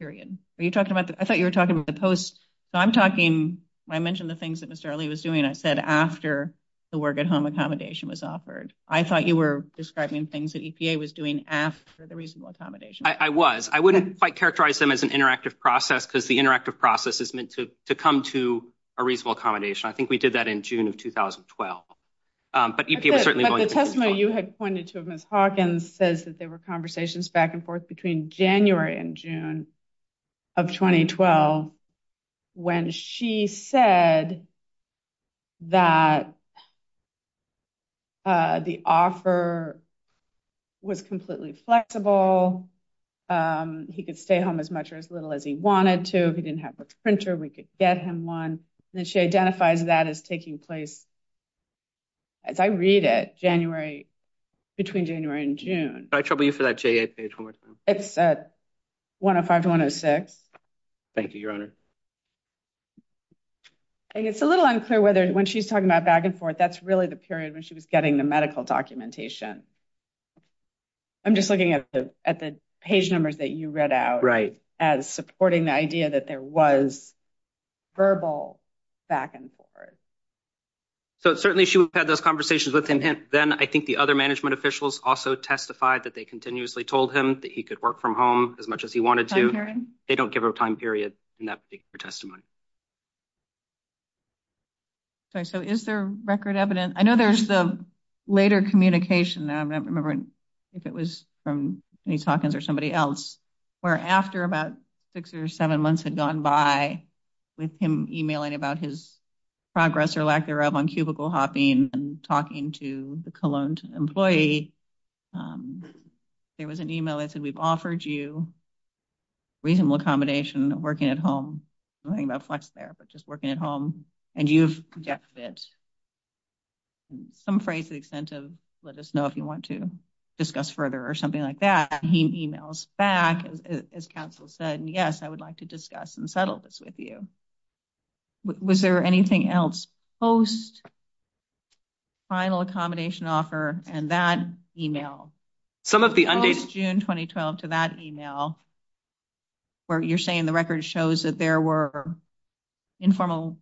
period. I thought you were talking about the post. So I'm talking, I mentioned the things that Mr. Ali was doing. I said after the work at home accommodation was offered. I thought you were describing things that EPA was doing after the reasonable accommodation. I was. I wouldn't quite characterize them as an interactive process because the interactive process is meant to come to a reasonable accommodation. I think we did that in June of 2012. But EPA was certainly willing to continue. But the testimony you had pointed to of Ms. Hawkins says that there were conversations back and forth between January and June of 2012. When she said that the offer was completely flexible. He could stay home as much or as little as he wanted to. He didn't have a printer. We could get him one. And then she identifies that as taking place, as I read it, January, between January and June. Can I trouble you for that J8 page one more time? It's 105 to 106. Thank you, Your Honor. It's a little unclear whether when she's talking about back and forth, that's really the period when she was getting the medical documentation. I'm just looking at the page numbers that you read out. Right. As supporting the idea that there was verbal back and forth. So certainly she had those conversations with him. And then I think the other management officials also testified that they continuously told him that he could work from home as much as he wanted to. They don't give a time period in that particular testimony. So is there record evidence? I know there's the later communication. I'm not remembering if it was from Denise Hawkins or somebody else. Where after about six or seven months had gone by with him emailing about his progress or lack thereof on cubicle hopping and talking to the Cologne employee. There was an email that said we've offered you reasonable accommodation working at home. Nothing about flex there. But just working at home. And you've got fit. Some phrase to the extent of let us know if you want to discuss further or something like that. He emails back as counsel said, yes, I would like to discuss and settle this with you. Was there anything else post final accommodation offer? And that email. Post June 2012 to that email where you're saying the record shows that there were informal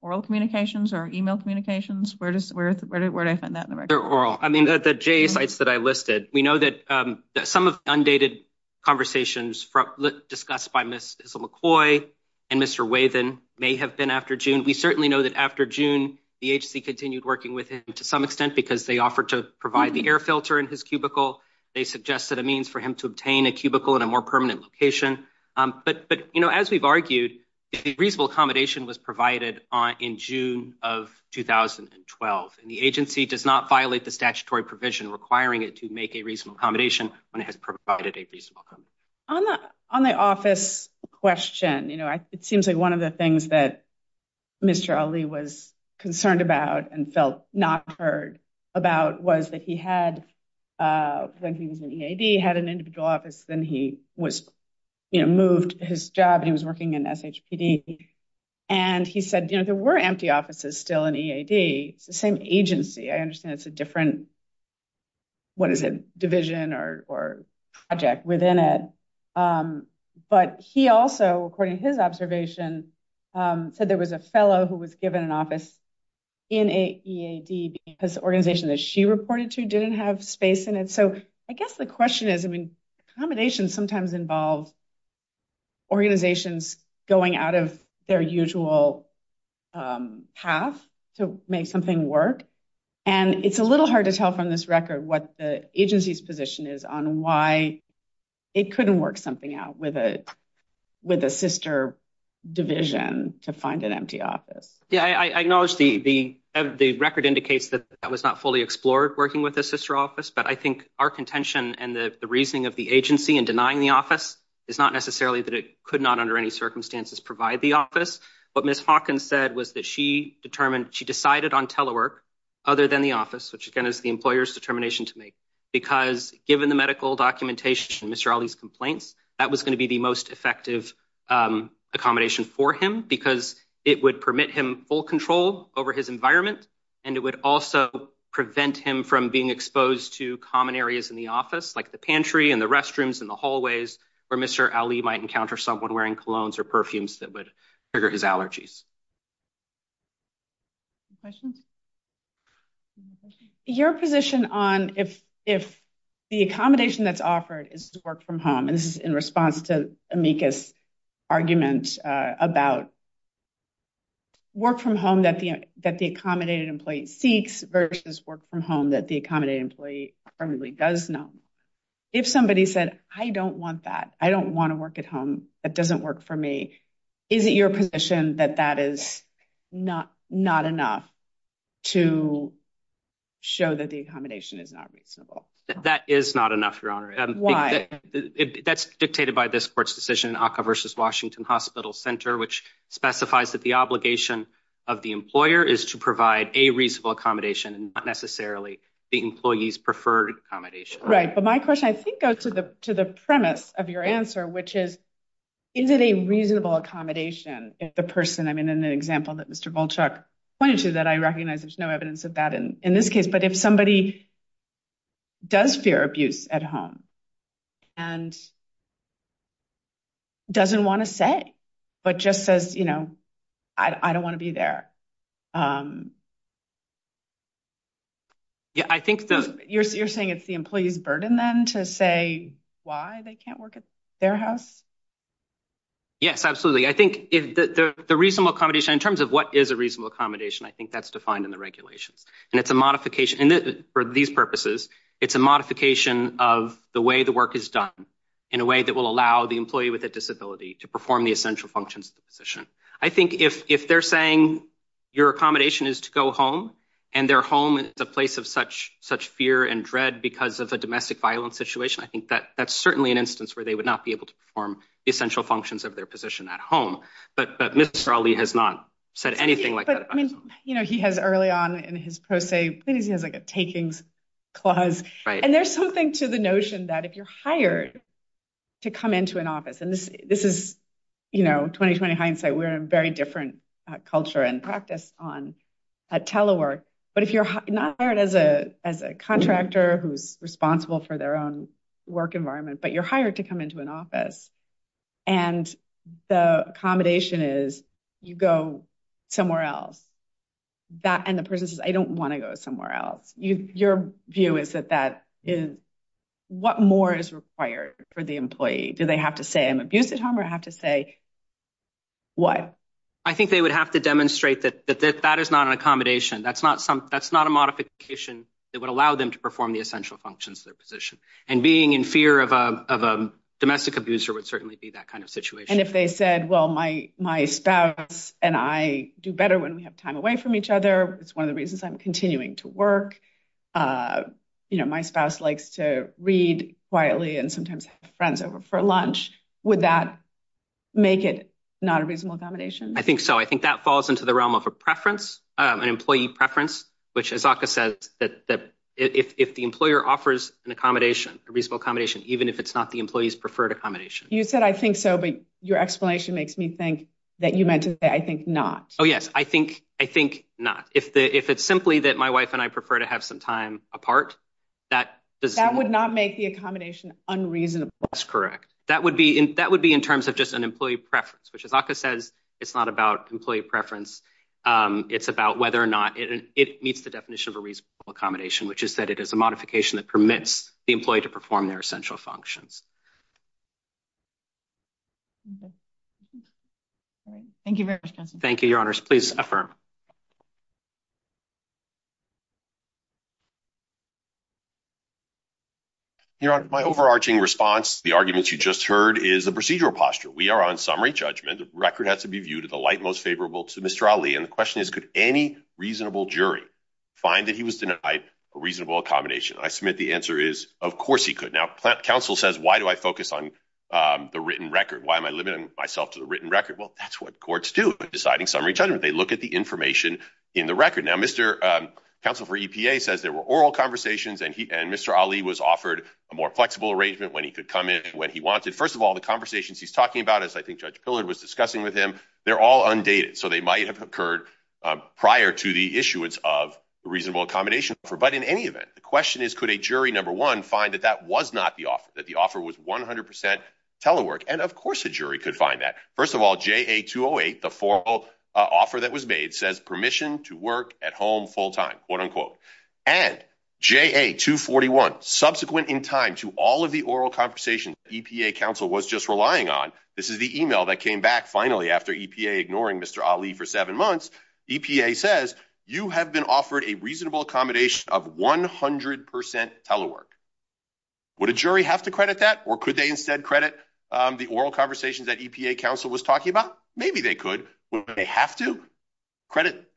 oral communications or email communications? Where did I find that in the record? The J sites that I listed. We know that some of the undated conversations discussed by Ms. McCoy and Mr. Wavin may have been after June. We certainly know that after June, the agency continued working with him to some extent because they offered to provide the air filter in his cubicle. They suggested a means for him to obtain a cubicle in a more permanent location. But as we've argued, reasonable accommodation was provided in June of 2012. The agency does not violate the statutory provision requiring it to make a reasonable accommodation when it has provided a reasonable accommodation. On the on the office question, you know, it seems like one of the things that Mr. Ali was concerned about and felt not heard about was that he had had an individual office. Then he was moved his job and he was working in S.H.P.D. And he said, you know, there were empty offices still in E.A.D. It's the same agency. I understand it's a different, what is it, division or project within it. But he also, according to his observation, said there was a fellow who was given an office in E.A.D. Because the organization that she reported to didn't have space in it. So I guess the question is, I mean, accommodations sometimes involve organizations going out of their usual path to make something work. And it's a little hard to tell from this record what the agency's position is on why it couldn't work something out with a sister division to find an empty office. Yeah, I acknowledge the record indicates that that was not fully explored working with a sister office. But I think our contention and the reasoning of the agency in denying the office is not necessarily that it could not under any circumstances provide the office. What Ms. Hawkins said was that she determined, she decided on telework other than the office, which, again, is the employer's determination to make. Because given the medical documentation, Mr. Ali's complaints, that was going to be the most effective accommodation for him. Because it would permit him full control over his environment. And it would also prevent him from being exposed to common areas in the office, like the pantry and the restrooms and the hallways, where Mr. Ali might encounter someone wearing colognes or perfumes that would trigger his allergies. Questions? Your position on if the accommodation that's offered is work from home, and this is in response to Amika's argument about work from home that the accommodating employee seeks, versus work from home that the accommodating employee really does know. If somebody said, I don't want that. I don't want to work at home. That doesn't work for me. Is it your position that that is not enough to show that the accommodation is not reasonable? That is not enough, Your Honor. Why? That's dictated by this court's decision, ACCA versus Washington Hospital Center, which specifies that the obligation of the employer is to provide a reasonable accommodation, and not necessarily the employee's preferred accommodation. Right. But my question, I think, goes to the premise of your answer, which is, is it a reasonable accommodation if the person, I mean, in the example that Mr. Bolchak pointed to, that I recognize there's no evidence of that in this case. But if somebody does fear abuse at home and doesn't want to say, but just says, you know, I don't want to be there. You're saying it's the employee's burden, then, to say why they can't work at their house? Yes, absolutely. I think the reasonable accommodation, in terms of what is a reasonable accommodation, I think that's defined in the regulations. And it's a modification. And for these purposes, it's a modification of the way the work is done in a way that will allow the employee with a disability to perform the essential functions of the position. I think if they're saying your accommodation is to go home, and their home is a place of such fear and dread because of a domestic violence situation, I think that's certainly an instance where they would not be able to perform the essential functions of their position at home. But Mr. Ali has not said anything like that. I mean, you know, he has early on in his pro se, he has like a takings clause. And there's something to the notion that if you're hired to come into an office, and this is, you know, 2020 hindsight, we're in a very different culture and practice on telework. But if you're not hired as a contractor who's responsible for their own work environment, but you're hired to come into an office, and the accommodation is you go somewhere else, that and the person says, I don't want to go somewhere else. Your view is that that is what more is required for the employee? Do they have to say I'm abused at home or have to say what? I think they would have to demonstrate that that is not an accommodation. That's not a modification that would allow them to perform the essential functions of their position. And being in fear of a domestic abuser would certainly be that kind of situation. And if they said, well, my spouse and I do better when we have time away from each other. It's one of the reasons I'm continuing to work. You know, my spouse likes to read quietly and sometimes have friends over for lunch. Would that make it not a reasonable accommodation? I think so. I think that falls into the realm of a preference, an employee preference, which, as Aka said, that if the employer offers an accommodation, a reasonable accommodation, even if it's not the employee's preferred accommodation. You said, I think so. But your explanation makes me think that you meant to say, I think not. Oh, yes. I think I think not. If it's simply that my wife and I prefer to have some time apart. That would not make the accommodation unreasonable. That's correct. That would be that would be in terms of just an employee preference, which, as Aka says, it's not about employee preference. It's about whether or not it meets the definition of a reasonable accommodation, which is that it is a modification that permits the employee to perform their essential functions. Thank you very much. Thank you, Your Honor. Please affirm. Your Honor, my overarching response to the arguments you just heard is the procedural posture. We are on summary judgment. The record has to be viewed at the light most favorable to Mr. Ali. And the question is, could any reasonable jury find that he was denied a reasonable accommodation? I submit the answer is, of course, he could now. Counsel says, why do I focus on the written record? Why am I limiting myself to the written record? Well, that's what courts do in deciding summary judgment. They look at the information in the record. Now, Mr. Counsel for EPA says there were oral conversations and he and Mr. Ali was offered a more flexible arrangement when he could come in when he wanted. First of all, the conversations he's talking about, as I think Judge Pillard was discussing with him, they're all undated. So they might have occurred prior to the issuance of reasonable accommodation. But in any event, the question is, could a jury, number one, find that that was not the case? That the offer was 100% telework? And of course, a jury could find that. First of all, JA-208, the formal offer that was made, says permission to work at home full-time, quote-unquote. And JA-241, subsequent in time to all of the oral conversations EPA counsel was just relying on, this is the email that came back finally after EPA ignoring Mr. Ali for seven months. EPA says, you have been offered a reasonable accommodation of 100% telework. Would a jury have to credit that? Or could they instead credit the oral conversations that EPA counsel was talking about? Maybe they could. Would they have to?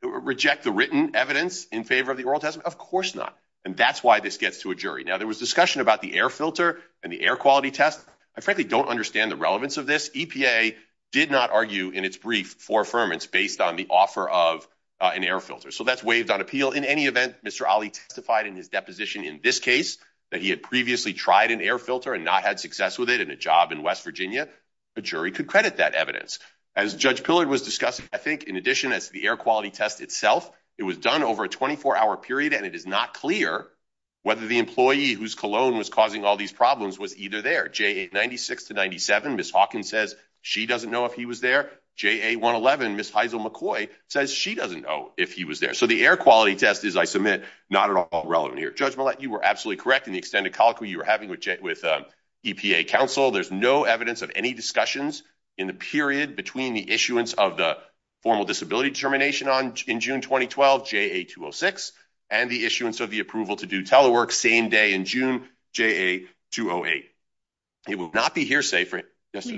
Reject the written evidence in favor of the oral test? Of course not. And that's why this gets to a jury. Now, there was discussion about the air filter and the air quality test. I frankly don't understand the relevance of this. EPA did not argue in its brief for affirmance based on the offer of an air filter. So that's waived on appeal. In any event, Mr. Ali testified in his deposition in this case that he had previously tried an air filter and not had success with it in a job in West Virginia. A jury could credit that evidence. As Judge Pillard was discussing, I think in addition to the air quality test itself, it was done over a 24-hour period. And it is not clear whether the employee whose cologne was causing all these problems was either there. JA-96 to 97, Ms. Hawkins says she doesn't know if he was there. JA-111, Ms. Heisel-McCoy says she doesn't know if he was there. So the air quality test is, I submit, not at all relevant here. Judge Millett, you were absolutely correct in the extended colloquy you were having with EPA counsel. There's no evidence of any discussions in the period between the issuance of the formal disability determination in June 2012, JA-206, and the issuance of the approval to do telework same day in June, JA-208. It would not be hearsay for him.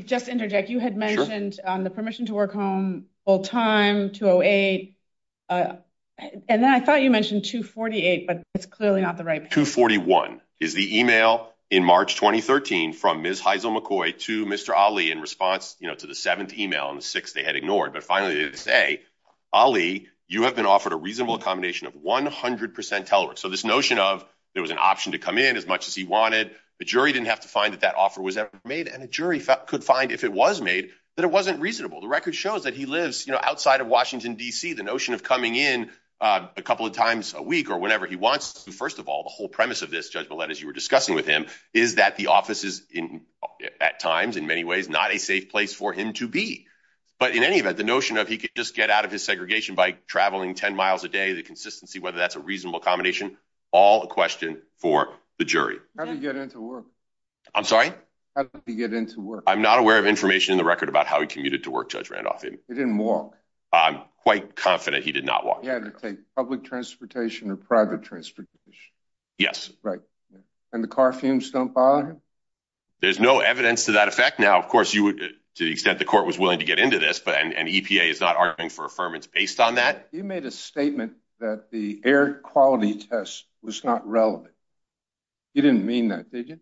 Just to interject, you had mentioned the permission to work home full-time, JA-208. And then I thought you mentioned JA-248, but it's clearly not the right period. JA-241 is the email in March 2013 from Ms. Heisel-McCoy to Mr. Ali in response to the seventh email, and the sixth they had ignored. But finally, they say, Ali, you have been offered a reasonable accommodation of 100% telework. So this notion of there was an option to come in as much as he wanted, the jury didn't have to find that that offer was ever made. And a jury could find, if it was made, that it wasn't reasonable. The record shows that he lives outside of Washington, D.C. The notion of coming in a couple of times a week or whenever he wants to, first of all, the whole premise of this, Judge Millett, as you were discussing with him, is that the office is, at times, in many ways, not a safe place for him to be. But in any event, the notion of he could just get out of his segregation by traveling 10 miles a day, the consistency, whether that's a reasonable accommodation, all a question for the jury. How did he get into work? I'm sorry? How did he get into work? I'm not aware of information in the record about how he commuted to work, Judge Randolph. He didn't walk? I'm quite confident he did not walk. He had to take public transportation or private transportation? Yes. Right. And the car fumes don't bother him? There's no evidence to that effect. Now, of course, to the extent the court was willing to get into this, and EPA is not arguing for affirmance based on that. You made a statement that the air quality test was not relevant. You didn't mean that, did you?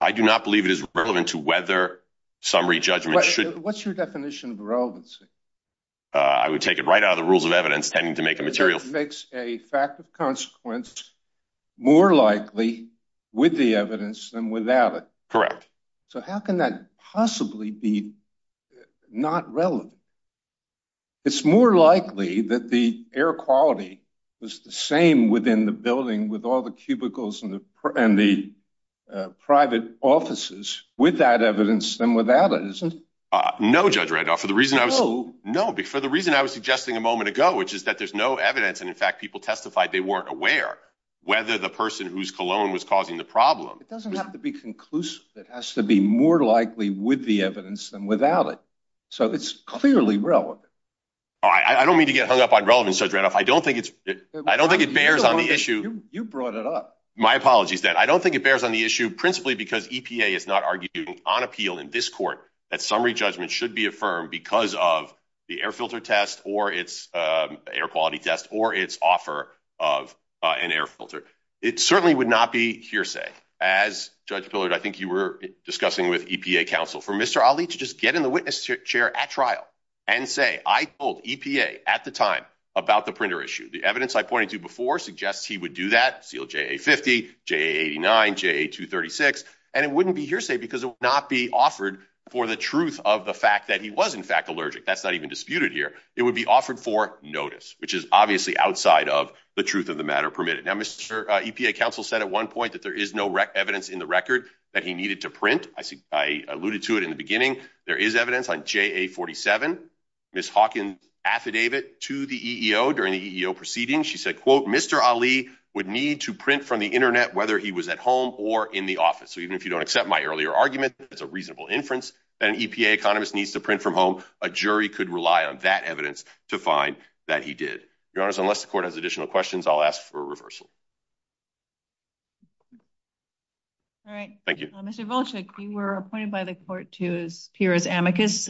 I do not believe it is relevant to whether summary judgment should- What's your definition of relevancy? I would take it right out of the rules of evidence, tending to make a material- That makes a fact of consequence more likely with the evidence than without it. Correct. So how can that possibly be not relevant? It's more likely that the air quality was the same within the building with all the cubicles and the private offices, with that evidence than without it, isn't it? No, Judge Randolph. No. No, for the reason I was suggesting a moment ago, which is that there's no evidence and, in fact, people testified they weren't aware whether the person whose cologne was causing the problem- It doesn't have to be conclusive. It has to be more likely with the evidence than without it. So it's clearly relevant. I don't mean to get hung up on relevance, Judge Randolph. I don't think it bears on the issue- You brought it up. My apologies, Dan. I don't think it bears on the issue, principally because EPA is not arguing on appeal in this court that summary judgment should be affirmed because of the air filter test or its- air quality test or its offer of an air filter. It certainly would not be hearsay, as, Judge Pillard, I think you were discussing with EPA counsel, for Mr. Ali to just get in the witness chair at trial and say, I told EPA at the time about the printer issue. The evidence I pointed to before suggests he would do that, seal JA50, JA89, JA236, and it wouldn't be hearsay because it would not be offered for the truth of the fact that he was, in fact, allergic. That's not even disputed here. It would be offered for notice, which is obviously outside of the truth of the matter permitted. Now, Mr. EPA counsel said at one point that there is no evidence in the record that he needed to print. I alluded to it in the beginning. There is evidence on JA47. Ms. Hawkins affidavit to the EEO during the EEO proceeding. She said, quote, Mr. Ali would need to print from the internet whether he was at home or in the office. So even if you don't accept my earlier argument that's a reasonable inference that an EPA economist needs to print from home, a jury could rely on that evidence to find that he did. Your Honor, unless the court has additional questions, I'll ask for a reversal. All right. Thank you. Mr. Volchek, you were appointed by the court to appear as amicus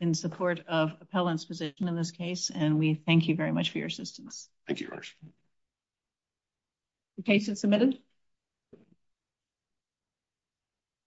in support of appellant's position in this case. And we thank you very much for your assistance. Thank you, Your Honor. The case is submitted.